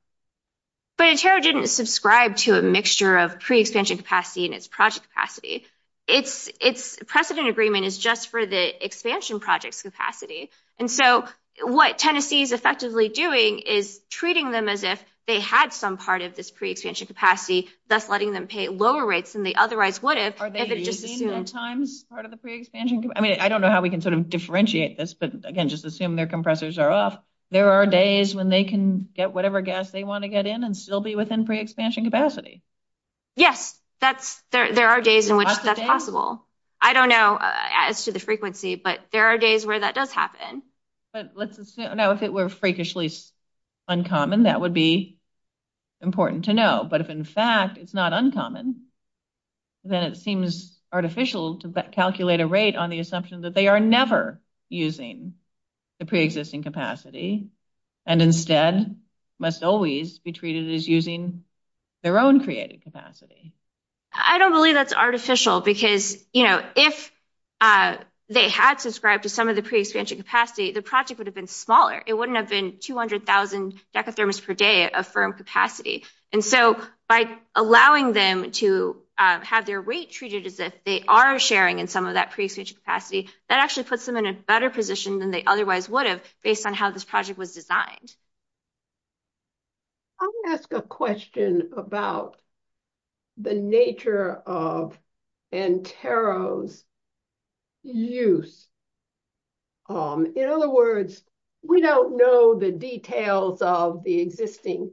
But it sure didn't subscribe to a mixture of pre-expansion capacity and its project capacity. Its precedent agreement is just for the expansion project capacity. And so what Tennessee is effectively doing is treating them as if they had some part of this pre-expansion capacity, thus letting them pay lower rates than they otherwise would have- Are they using, at times, part of the pre-expansion? I mean, I don't know how we can sort of differentiate this, but again, just assume their compressors are off. There are days when they can get whatever gas they want to get in and still be within pre-expansion capacity. Yes, there are days in which that's possible. I don't know as to the frequency, but there are days where that does happen. But let's assume, now, if it were freakishly uncommon, that would be important to know. But if, in fact, it's not uncommon, then it seems artificial to calculate a rate on the assumption that they are never using the pre-existing capacity, and instead must always be treated as using their own pre-existing capacity. I don't believe that's artificial, because if they had subscribed to some of the pre-expansion capacity, the project would have been smaller. It wouldn't have been 200,000 decatherms per day of firm capacity. And so by allowing them to have their rate treated as if they are sharing in some of that pre-expansion capacity that actually puts them in a better position than they otherwise would have based on how this project was designed. I'm gonna ask a question about the nature of Antero's use. In other words, we don't know the details of the existing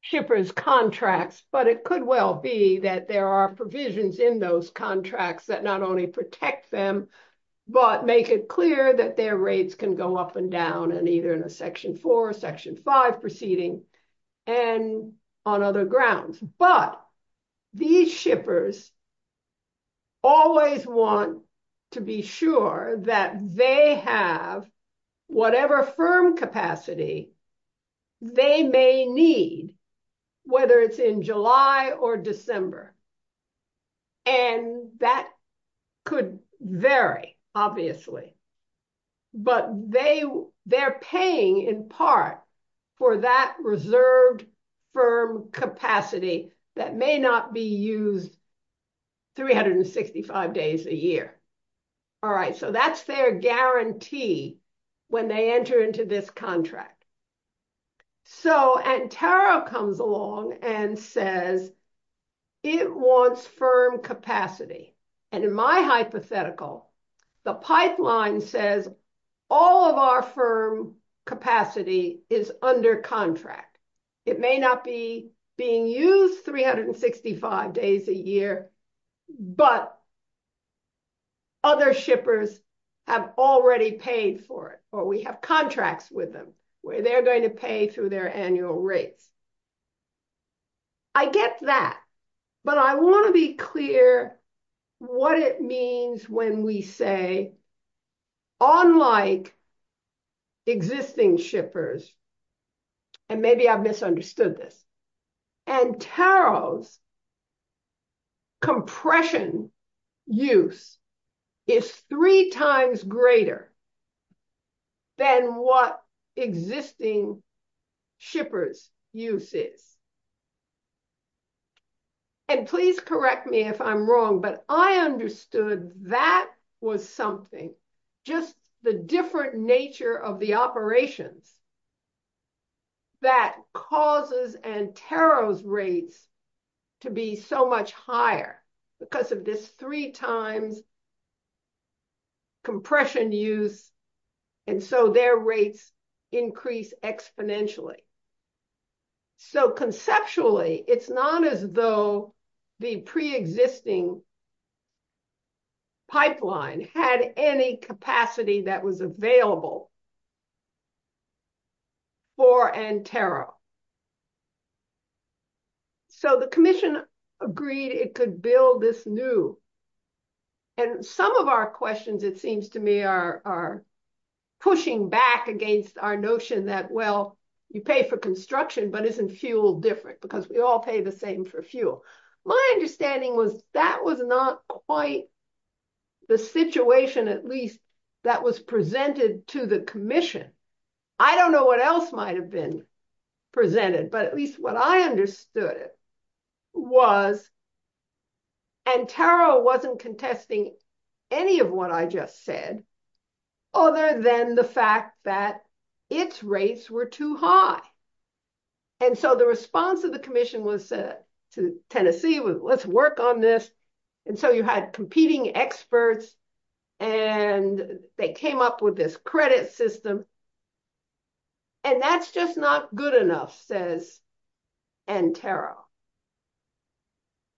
shippers' contracts, but it could well be that there are provisions in those contracts that not only protect them, but make it clear that their rates can go up and down and either in a section four or section five proceeding and on other grounds. But these shippers always want to be sure that they have whatever firm capacity they may need, whether it's in July or December. And that could vary, obviously. But they're paying in part for that reserved firm capacity that may not be used 365 days a year. All right, so that's their guarantee when they enter into this contract. So Antero comes along and says, it wants firm capacity. And in my hypothetical, the pipeline says all of our firm capacity is under contract. It may not be being used 365 days a year, but other shippers have already paid for it or we have contracts with them where they're going to pay through their annual rates. I get that, but I want to be clear what it means when we say, unlike existing shippers, and maybe I've misunderstood this, Antero's compression use is three times greater than what existing shippers use. And please correct me if I'm wrong, but I understood that was something, just the different nature of the operation that causes Antero's rates to be so much higher because of this three times compression use and so their rates increase exponentially. So conceptually, it's not as though the preexisting pipeline had any capacity that was available for Antero. So the commission agreed it could build this new. And some of our questions, it seems to me, are pushing back against our notion that, well, you pay for construction, but isn't fuel different because we all pay the same for fuel. My understanding was that was not quite the situation, at least, that was presented to the commission. I don't know what else might've been presented, but at least what I understood was Antero wasn't contesting any of what I just said other than the fact that its rates were too high. And so the response of the commission was to Tennessee, was let's work on this. And so you had competing experts and they came up with this credit system. And that's just not good enough, says Antero.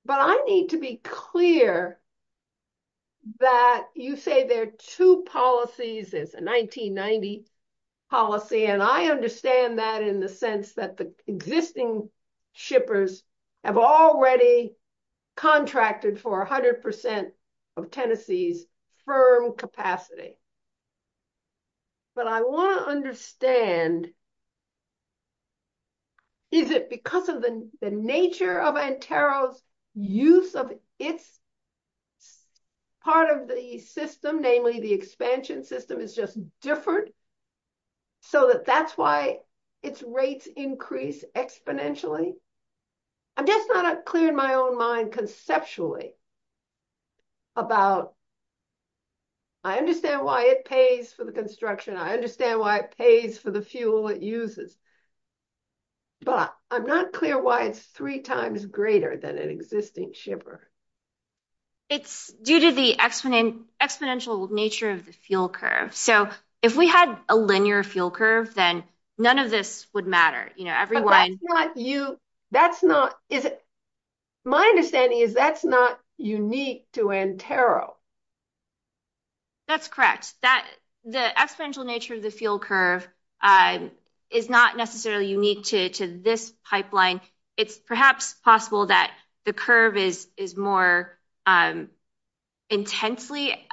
But I need to be clear that you say there are two policies. It's a 1990 policy. And I understand that in the sense that the existing shippers have already contracted for 100% of Tennessee's firm capacity. But I want to understand, is it because of the nature of Antero's use of its, part of the system, namely the expansion system, is just different? So that that's why its rates increase exponentially. I guess I'm not clear in my own mind conceptually about, I understand why it pays for the construction. I understand why it pays for the fuel it uses. But I'm not clear why it's three times greater than an existing shipper. It's due to the exponential nature of the fuel curve. So if we had a linear fuel curve, then none of this would matter. My understanding is that's not unique to Antero. That's correct. The exponential nature of the fuel curve is not necessarily unique to this pipeline. It's perhaps possible that the curve is more intensely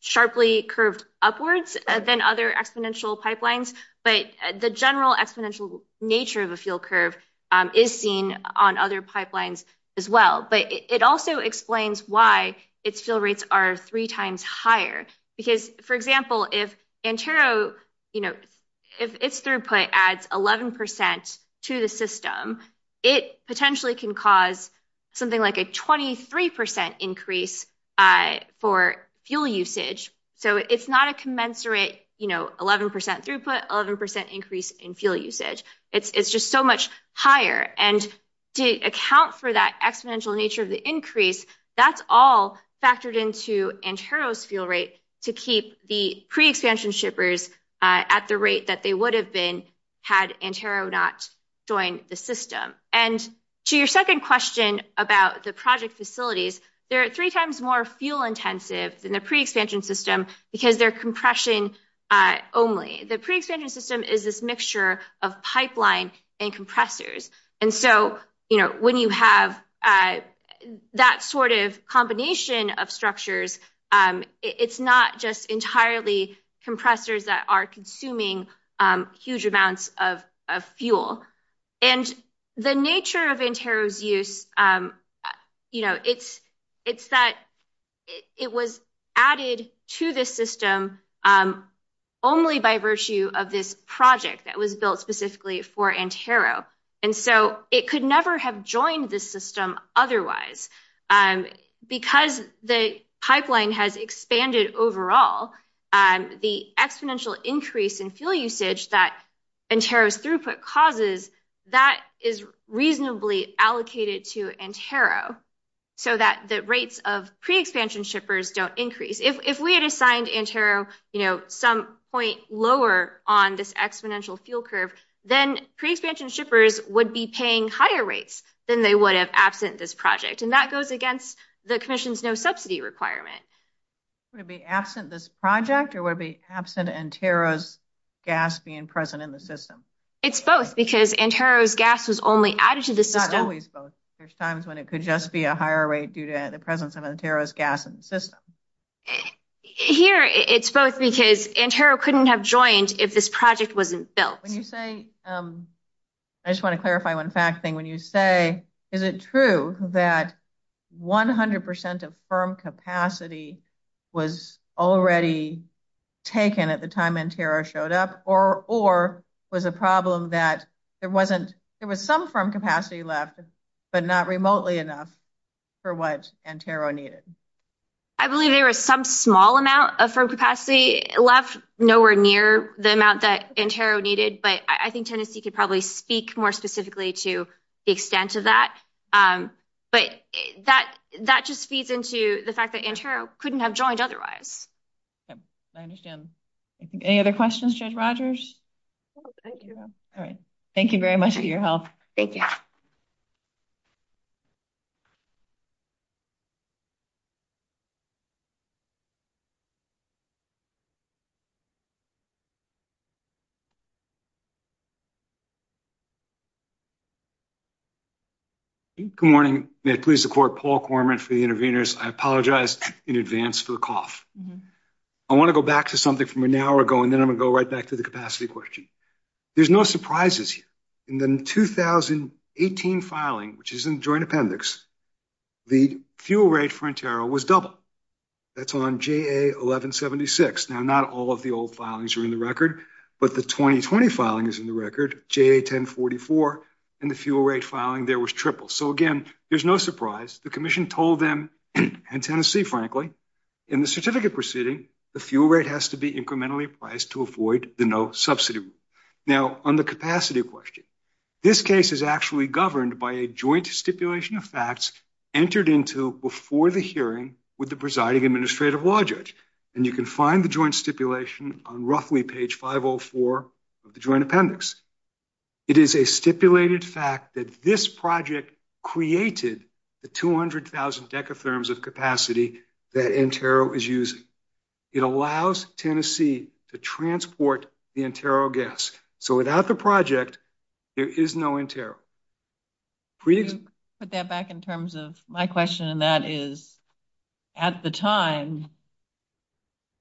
sharply curved upwards than other exponential pipelines. But the general exponential nature of a fuel curve is seen on other pipelines as well. But it also explains why its fuel rates are three times higher. Because for example, if Antero, if its throughput adds 11% to the system, it potentially can cause something like a 23% increase for fuel usage. So it's not a commensurate 11% throughput, 11% increase in fuel usage. It's just so much higher. And to account for that exponential nature of the increase, that's all factored into Antero's fuel rate to keep the pre-extension shippers at the rate that they would have been had Antero not joined the system. And to your second question about the project facilities, they're three times more fuel intensive than the pre-extension system because they're compression only. The pre-extension system is this mixture of pipelines and compressors. And so when you have that sort of combination of structures, it's not just entirely compressors that are consuming huge amounts of fuel. And the nature of Antero's use, it's that it was added to this system only by virtue of this project that was built specifically for Antero. And so it could never have joined this system otherwise because the pipeline has expanded overall. The exponential increase in fuel usage that Antero's throughput causes, that is reasonably allocated to Antero so that the rates of pre-extension shippers don't increase. If we had assigned Antero some point lower on this exponential fuel curve, then pre-extension shippers would be paying higher rates than they would have absent this project. And that goes against the commission's no subsidy requirement. Would it be absent this project or would it be absent Antero's gas being present in the system? It's both because Antero's gas was only added to the system. It's not always both. There's times when it could just be a higher rate due to the presence of Antero's gas in the system. Here it's both because Antero couldn't have joined if this project wasn't built. When you say, I just wanna clarify one fact thing. When you say, is it true that 100% of firm capacity was already taken at the time Antero showed up or was a problem that there was some firm capacity left, but not remotely enough for what Antero needed? I believe there was some small amount of firm capacity left nowhere near the amount that Antero needed. But I think Tennessee could probably speak more specifically to the extent of that. But that just feeds into the fact that Antero couldn't have joined otherwise. I understand. Any other questions, Judge Rogers? No, thank you. All right. Thank you very much for your help. Thank you. Good morning. May I please report Paul Korman for the interveners. I apologize in advance for cough. I wanna go back to something from an hour ago and then I'm gonna go right back to the capacity question. There's no surprises here. In the 2018 filing, which is in joint appendix, the fuel rate for Antero was double. That's on JA 1176. Now, not all of the old filings are in the record, but the 2020 filing is in the record, JA 1044, and the fuel rate filing there was triple. So again, there's no surprise. The commission told them, and Tennessee, frankly, in the certificate proceeding, the fuel rate has to be incrementally priced to avoid the no subsidy. Now, on the capacity question, this case is actually governed by a joint stipulation of facts entered into before the hearing with the presiding administrative law judge. And you can find the joint stipulation on roughly page 504 of the joint appendix. It is a stipulated fact that this project created the 200,000 decatherms of capacity that Antero is using. It allows Tennessee to transport the Antero gas. So without the project, there is no Antero. Please. Put that back in terms of my question, and that is, at the time,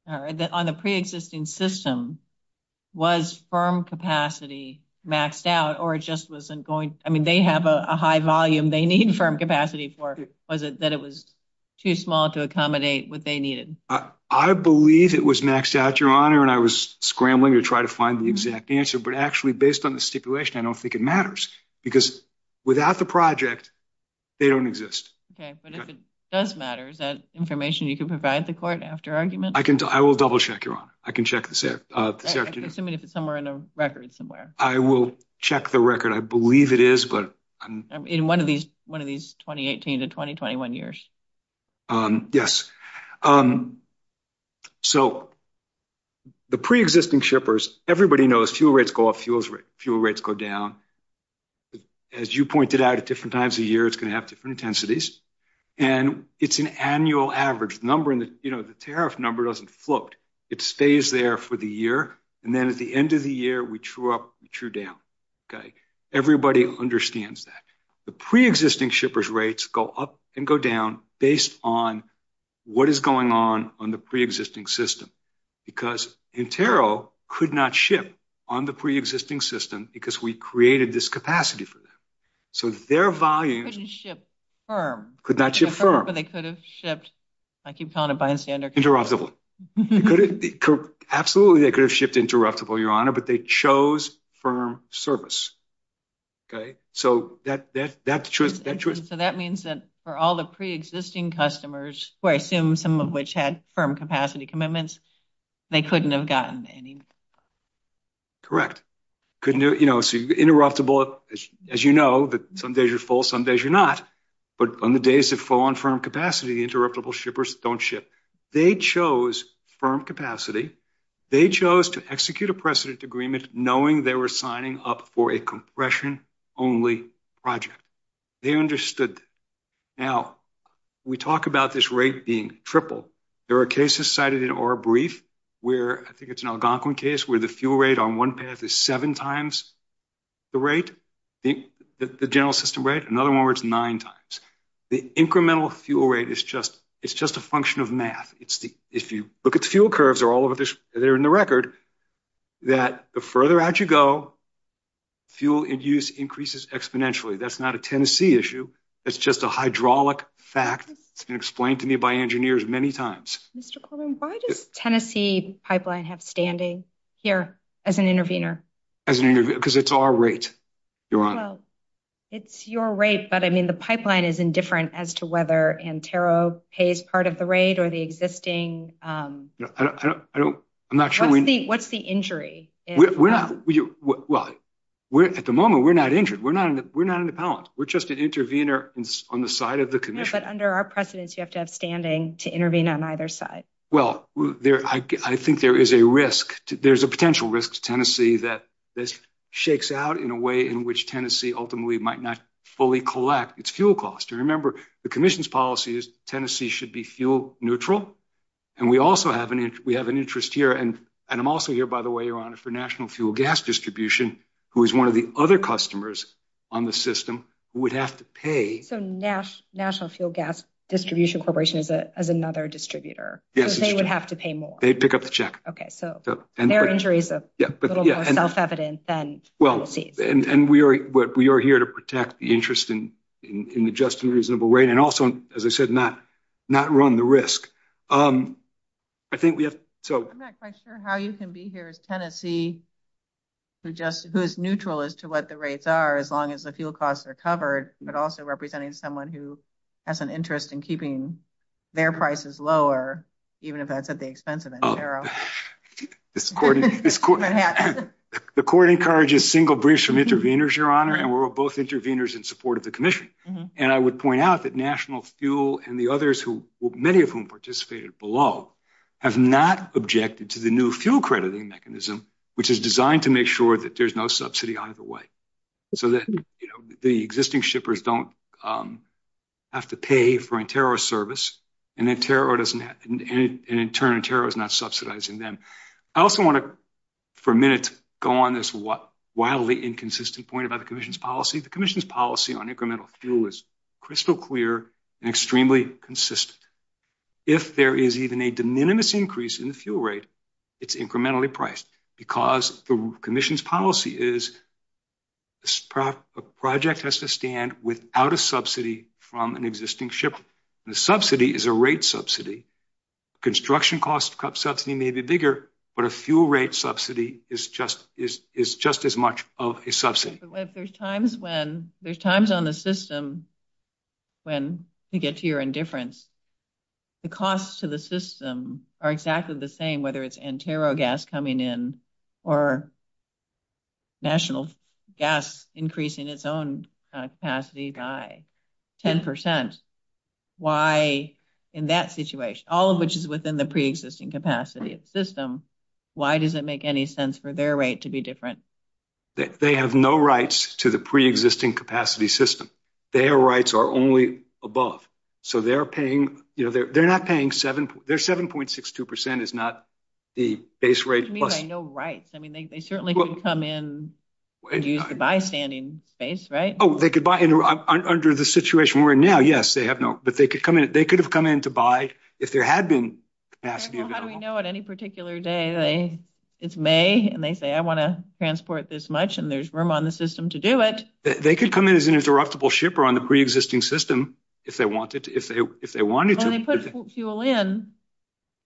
on the preexisting system, was firm capacity maxed out, or it just wasn't going, I mean, they have a high volume they need firm capacity for, or was it that it was too small to accommodate what they needed? I believe it was maxed out, Your Honor, and I was scrambling to try to find the exact answer, but actually, based on the stipulation, I don't think it matters, because without the project, they don't exist. Okay, but if it does matter, is that information you can provide the court after argument? I will double-check, Your Honor. I can check this out. I'm assuming it's somewhere in the record somewhere. I will check the record. I believe it is, but... In one of these 2018 to 2021 years. Yes. So, the preexisting shippers, everybody knows fuel rates go up, fuel rates go down. As you pointed out, at different times of year, it's gonna have different intensities, and it's an annual average. The tariff number doesn't float. It stays there for the year, and then at the end of the year, we true up and true down, okay? Everybody understands that. The preexisting shippers' rates go up and go down based on what is going on on the preexisting system, because Intero could not ship on the preexisting system because we created this capacity for them. So, their volume... They couldn't ship firm. Could not ship firm. But they could have shipped, I keep telling them, bystander... Interruptible. Absolutely, they could have shipped interruptible, Your Honor, but they chose firm service. So, that's the truth. So, that means that for all the preexisting customers, who I assume some of which had firm capacity commitments, they couldn't have gotten any. Correct. Interruptible, as you know, that some days you're full, some days you're not. But on the days that full on firm capacity, the interruptible shippers don't ship. They chose firm capacity. They chose to execute a precedent agreement knowing they were signing up for a compression-only project. They understood. Now, we talk about this rate being triple. There are cases cited in our brief where, I think it's an Algonquin case, where the fuel rate on one path is seven times the rate, the general system rate. Another one where it's nine times. The incremental fuel rate is just a function of math. If you look at the fuel curves, they're all over this, they're in the record, that the further out you go, fuel in use increases exponentially. That's not a Tennessee issue. It's just a hydraulic fact. It's been explained to me by engineers many times. Mr. Coleman, why does Tennessee Pipeline have standing here as an intervener? As an intervener? Because it's our rate, Your Honor. It's your rate, but I mean, the pipeline is indifferent as to whether Antero pays part of the rate or the existing. I don't, I don't, I'm not sure. What's the injury? We're not, well, at the moment, we're not injured. We're not, we're not in a balance. We're just an intervener on the side of the commission. But under our precedence, you have to have standing to intervene on either side. Well, I think there is a risk. There's a potential risk to Tennessee that this shakes out in a way in which Tennessee ultimately might not fully collect its fuel cost. Remember, the commission's policy is Tennessee should be fuel neutral. And we also have an interest here. And I'm also here, by the way, Your Honor, for National Fuel Gas Distribution, who is one of the other customers on the system who would have to pay. So National Fuel Gas Distribution Corporation is another distributor. Yes, it's true. So they would have to pay more. They'd pick up the check. Okay, so there are injuries of little self-evidence and we'll see. And we are here to protect the interest in adjusting the reasonable rate. And also, as I said, not run the risk. I think we have, so. I'm not quite sure how you can be here as Tennessee to just, who's neutral as to what the rates are, as long as the fuel costs are covered, but also representing someone who has an interest in keeping their prices lower, even if that's at the expense of the tariff. This court, this court. The court encourages single breach from intervenors, Your Honor, and we're both intervenors in support of the commission. And I would point out that National Fuel and the others who, many of whom participated below, have not objected to the new fuel crediting mechanism, which is designed to make sure that there's no subsidy out of the way. So that the existing shippers don't have to pay for anterior service. And in turn, anterior is not subsidizing them. I also want to, for a minute, go on this wildly inconsistent point about the commission's policy. The commission's policy on incremental fuel is crystal clear and extremely consistent. If there is even a diminutive increase in the fuel rate, it's incrementally priced. Because the commission's policy is, a project has to stand without a subsidy from an existing shipper. The subsidy is a rate subsidy. Construction cost subsidy may be bigger, but a fuel rate subsidy is just as much of a subsidy. But if there's times when, there's times on the system, when you get to your indifference, the costs to the system are exactly the same, whether it's Antero gas coming in or National Gas increasing its own capacity by 10%. Why, in that situation, all of which is within the pre-existing capacity system, why does it make any sense for their rate to be different? They have no rights to the pre-existing capacity system. Their rights are only above. So they're paying, they're not paying seven, they're 7.62% is not the base rate plus. I mean, they have no rights. I mean, they certainly can come in and use the by-standing base, right? Oh, they could buy under the situation where now, yes, they have no, but they could come in, they could have come in to buy if there had been capacity available. How do we know at any particular day, it's May and they say, I wanna transport this much and there's room on the system to do it. They could come in as an interruptible shipper on the pre-existing system if they wanted to. When they put fuel in,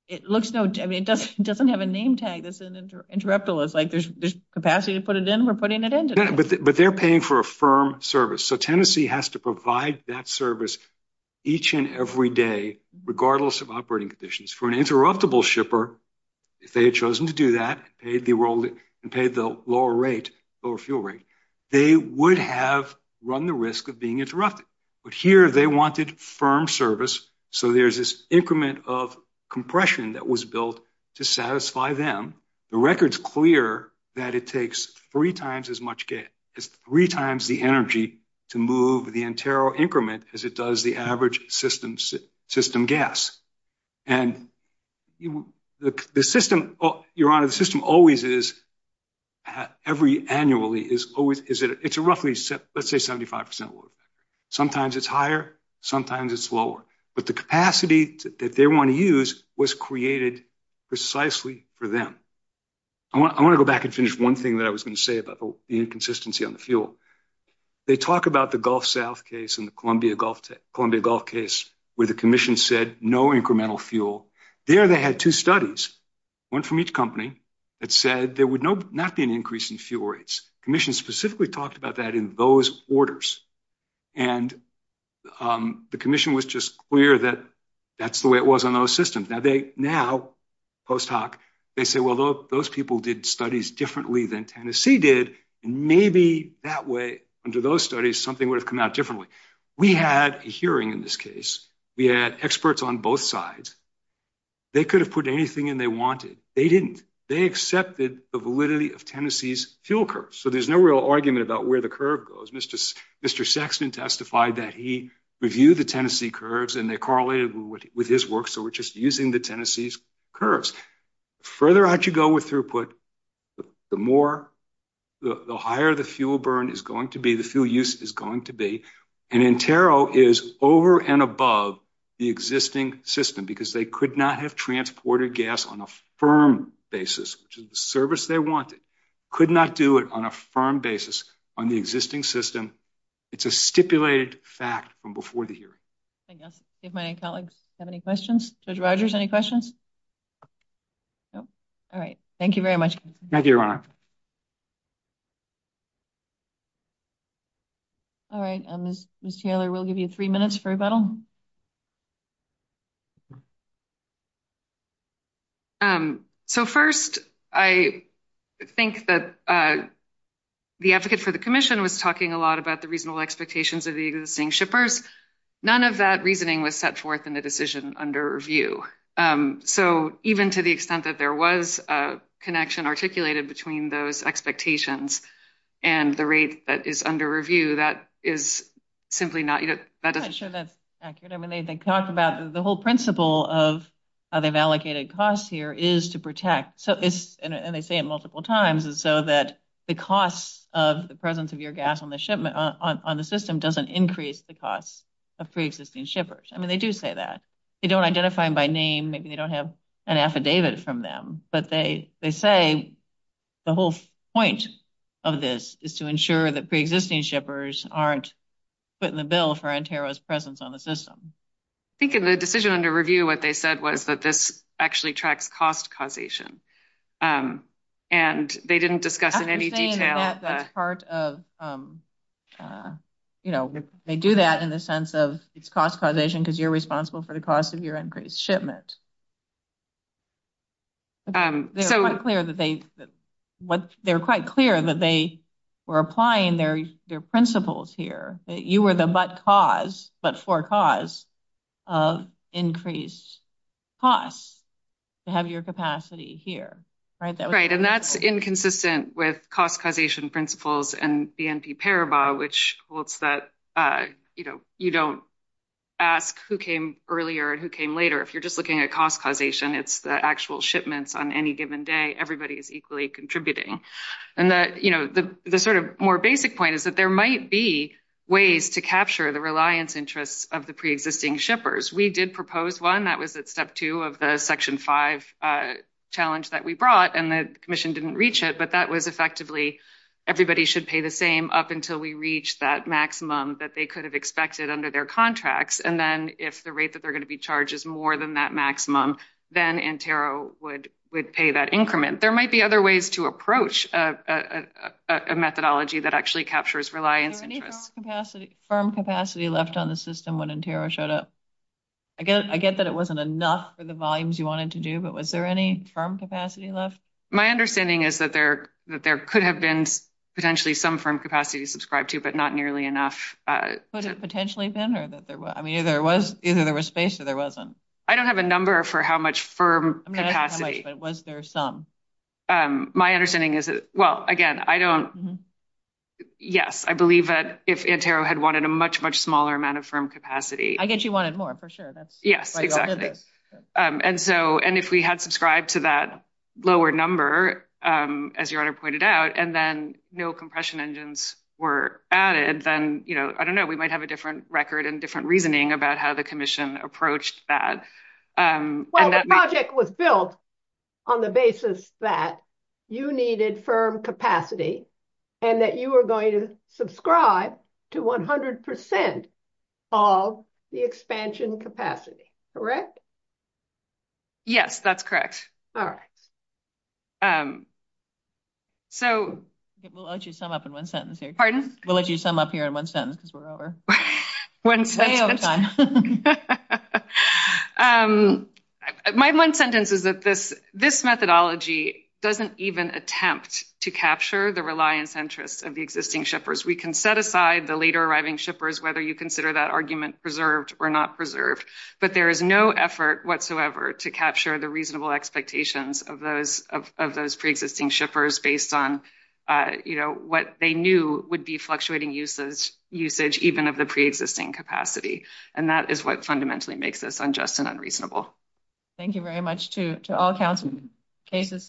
it looks no, I mean, it doesn't have a name tag that's an interruptible. It's like there's capacity to put it in, we're putting it in today. Yeah, but they're paying for a firm service. So Tennessee has to provide that service each and every day, regardless of operating conditions. For an interruptible shipper, if they had chosen to do that, paid the lower fuel rate, they would have run the risk of being interrupted. But here they wanted firm service. So there's this increment of compression that was built to satisfy them. The record's clear that it takes three times as much gas, it's three times the energy to move the entire increment as it does the average system gas. And the system, Your Honor, the system always is, every annually is always, it's a roughly, let's say 75% lower. Sometimes it's higher, sometimes it's lower. But the capacity that they wanna use was created precisely for them. I wanna go back and finish one thing that I was gonna say about the inconsistency on the fuel. They talk about the Gulf South case and the Columbia Gulf case, where the commission said no incremental fuel. There, they had two studies, one from each company that said there would not be an increase in fuel rates. Commission specifically talked about that in those orders. And the commission was just clear that that's the way it was on those systems. Now, post hoc, they say, well, those people did studies differently than Tennessee did and maybe that way, under those studies, something would have come out differently. We had a hearing in this case. We had experts on both sides. They could have put anything in they wanted. They didn't. They accepted the validity of Tennessee's fuel curves. So there's no real argument about where the curve goes. Mr. Saxon testified that he reviewed the Tennessee curves and they correlated with his work. So we're just using the Tennessee's curves. Further out you go with throughput, the more, the higher the fuel burn is going to be, the fuel use is going to be. And Intero is over and above the existing system because they could not have transported gas on a firm basis, which is the service they wanted, could not do it on a firm basis on the existing system. It's a stipulated fact from before the hearing. Thank you. I see if my colleagues have any questions. Judge Rogers, any questions? No? All right. Thank you very much. Thank you, Your Honor. All right, Ms. Taylor, we'll give you three minutes for rebuttal. So first, I think that the advocate for the commission was talking a lot about the reasonable expectations of the existing shippers. None of that reasoning was set forth in the decision under review. So even to the extent that there was a connection articulated between those expectations and the rate that is under review, that is simply not yet. That doesn't- I'm not sure that's accurate. I mean, they talk about the whole principle of how they've allocated costs here is to protect. So it's, and they say it multiple times. And so that the costs of the presence of your gas on the system doesn't increase the costs of pre-existing shippers. I mean, they do say that. They don't identify them by name. Maybe you don't have an affidavit from them, but they say the whole point of this is to ensure that pre-existing shippers aren't put in the middle for Ontario's presence on the system. I think in the decision under review, what they said was that this actually tracks cost causation. And they didn't discuss in any detail- I'm saying that that's part of, you know, they do that in the sense of it's cost causation because you're responsible for the cost of your increased shipment. They're quite clear that they were applying their principles here, that you were the but-cause, but-for-cause of increased costs to have your capacity here, right? Right, and that's inconsistent with cost causation principles and the NP Paribas, which holds that, you know, you don't ask who came earlier and who came later. If you're just looking at the cost causation principles, it's the actual shipments on any given day, everybody is equally contributing. And that, you know, the sort of more basic point is that there might be ways to capture the reliance interests of the pre-existing shippers. We did propose one, that was at step two of the section five challenge that we brought, and the commission didn't reach it, but that was effectively everybody should pay the same up until we reached that maximum that they could have expected under their contracts. And then if the rate that they're going to be charged is more than that maximum, then Intero would pay that increment. There might be other ways to approach a methodology that actually captures reliance. Is there any firm capacity left on the system when Intero showed up? I get that it wasn't enough for the volumes you wanted to do, but was there any firm capacity left? My understanding is that there could have been potentially some firm capacity subscribed to, but not nearly enough. Could it potentially have been? Or that there was, I mean, either there was space or there wasn't. I don't have a number for how much firm capacity. But was there some? My understanding is that, well, again, I don't, yes. I believe that if Intero had wanted a much, much smaller amount of firm capacity. I guess you wanted more for sure. That's why you all did this. And so, and if we had subscribed to that lower number, as your honor pointed out, and then no compression engines were added, then, you know, I don't know, we might have a different record and different reasoning about how the commission approached that. Well, the project was built on the basis that you needed firm capacity and that you were going to subscribe to 100% of the expansion capacity, correct? Yes, that's correct. All right. So. We'll let you sum up in one sentence here. Pardon? We'll let you sum up here in one sentence, whatever. My one sentence is that this methodology doesn't even attempt to capture the reliance interest of the existing shippers. We can set aside the later arriving shippers, whether you consider that argument preserved or not preserved, but there is no effort whatsoever to capture the reasonable expectations of those pre-existing shippers based on, you know, what they knew would be fluctuating usage, even of the pre-existing capacity. And that is what fundamentally makes this unjust and unreasonable. Thank you very much to all cases submitted.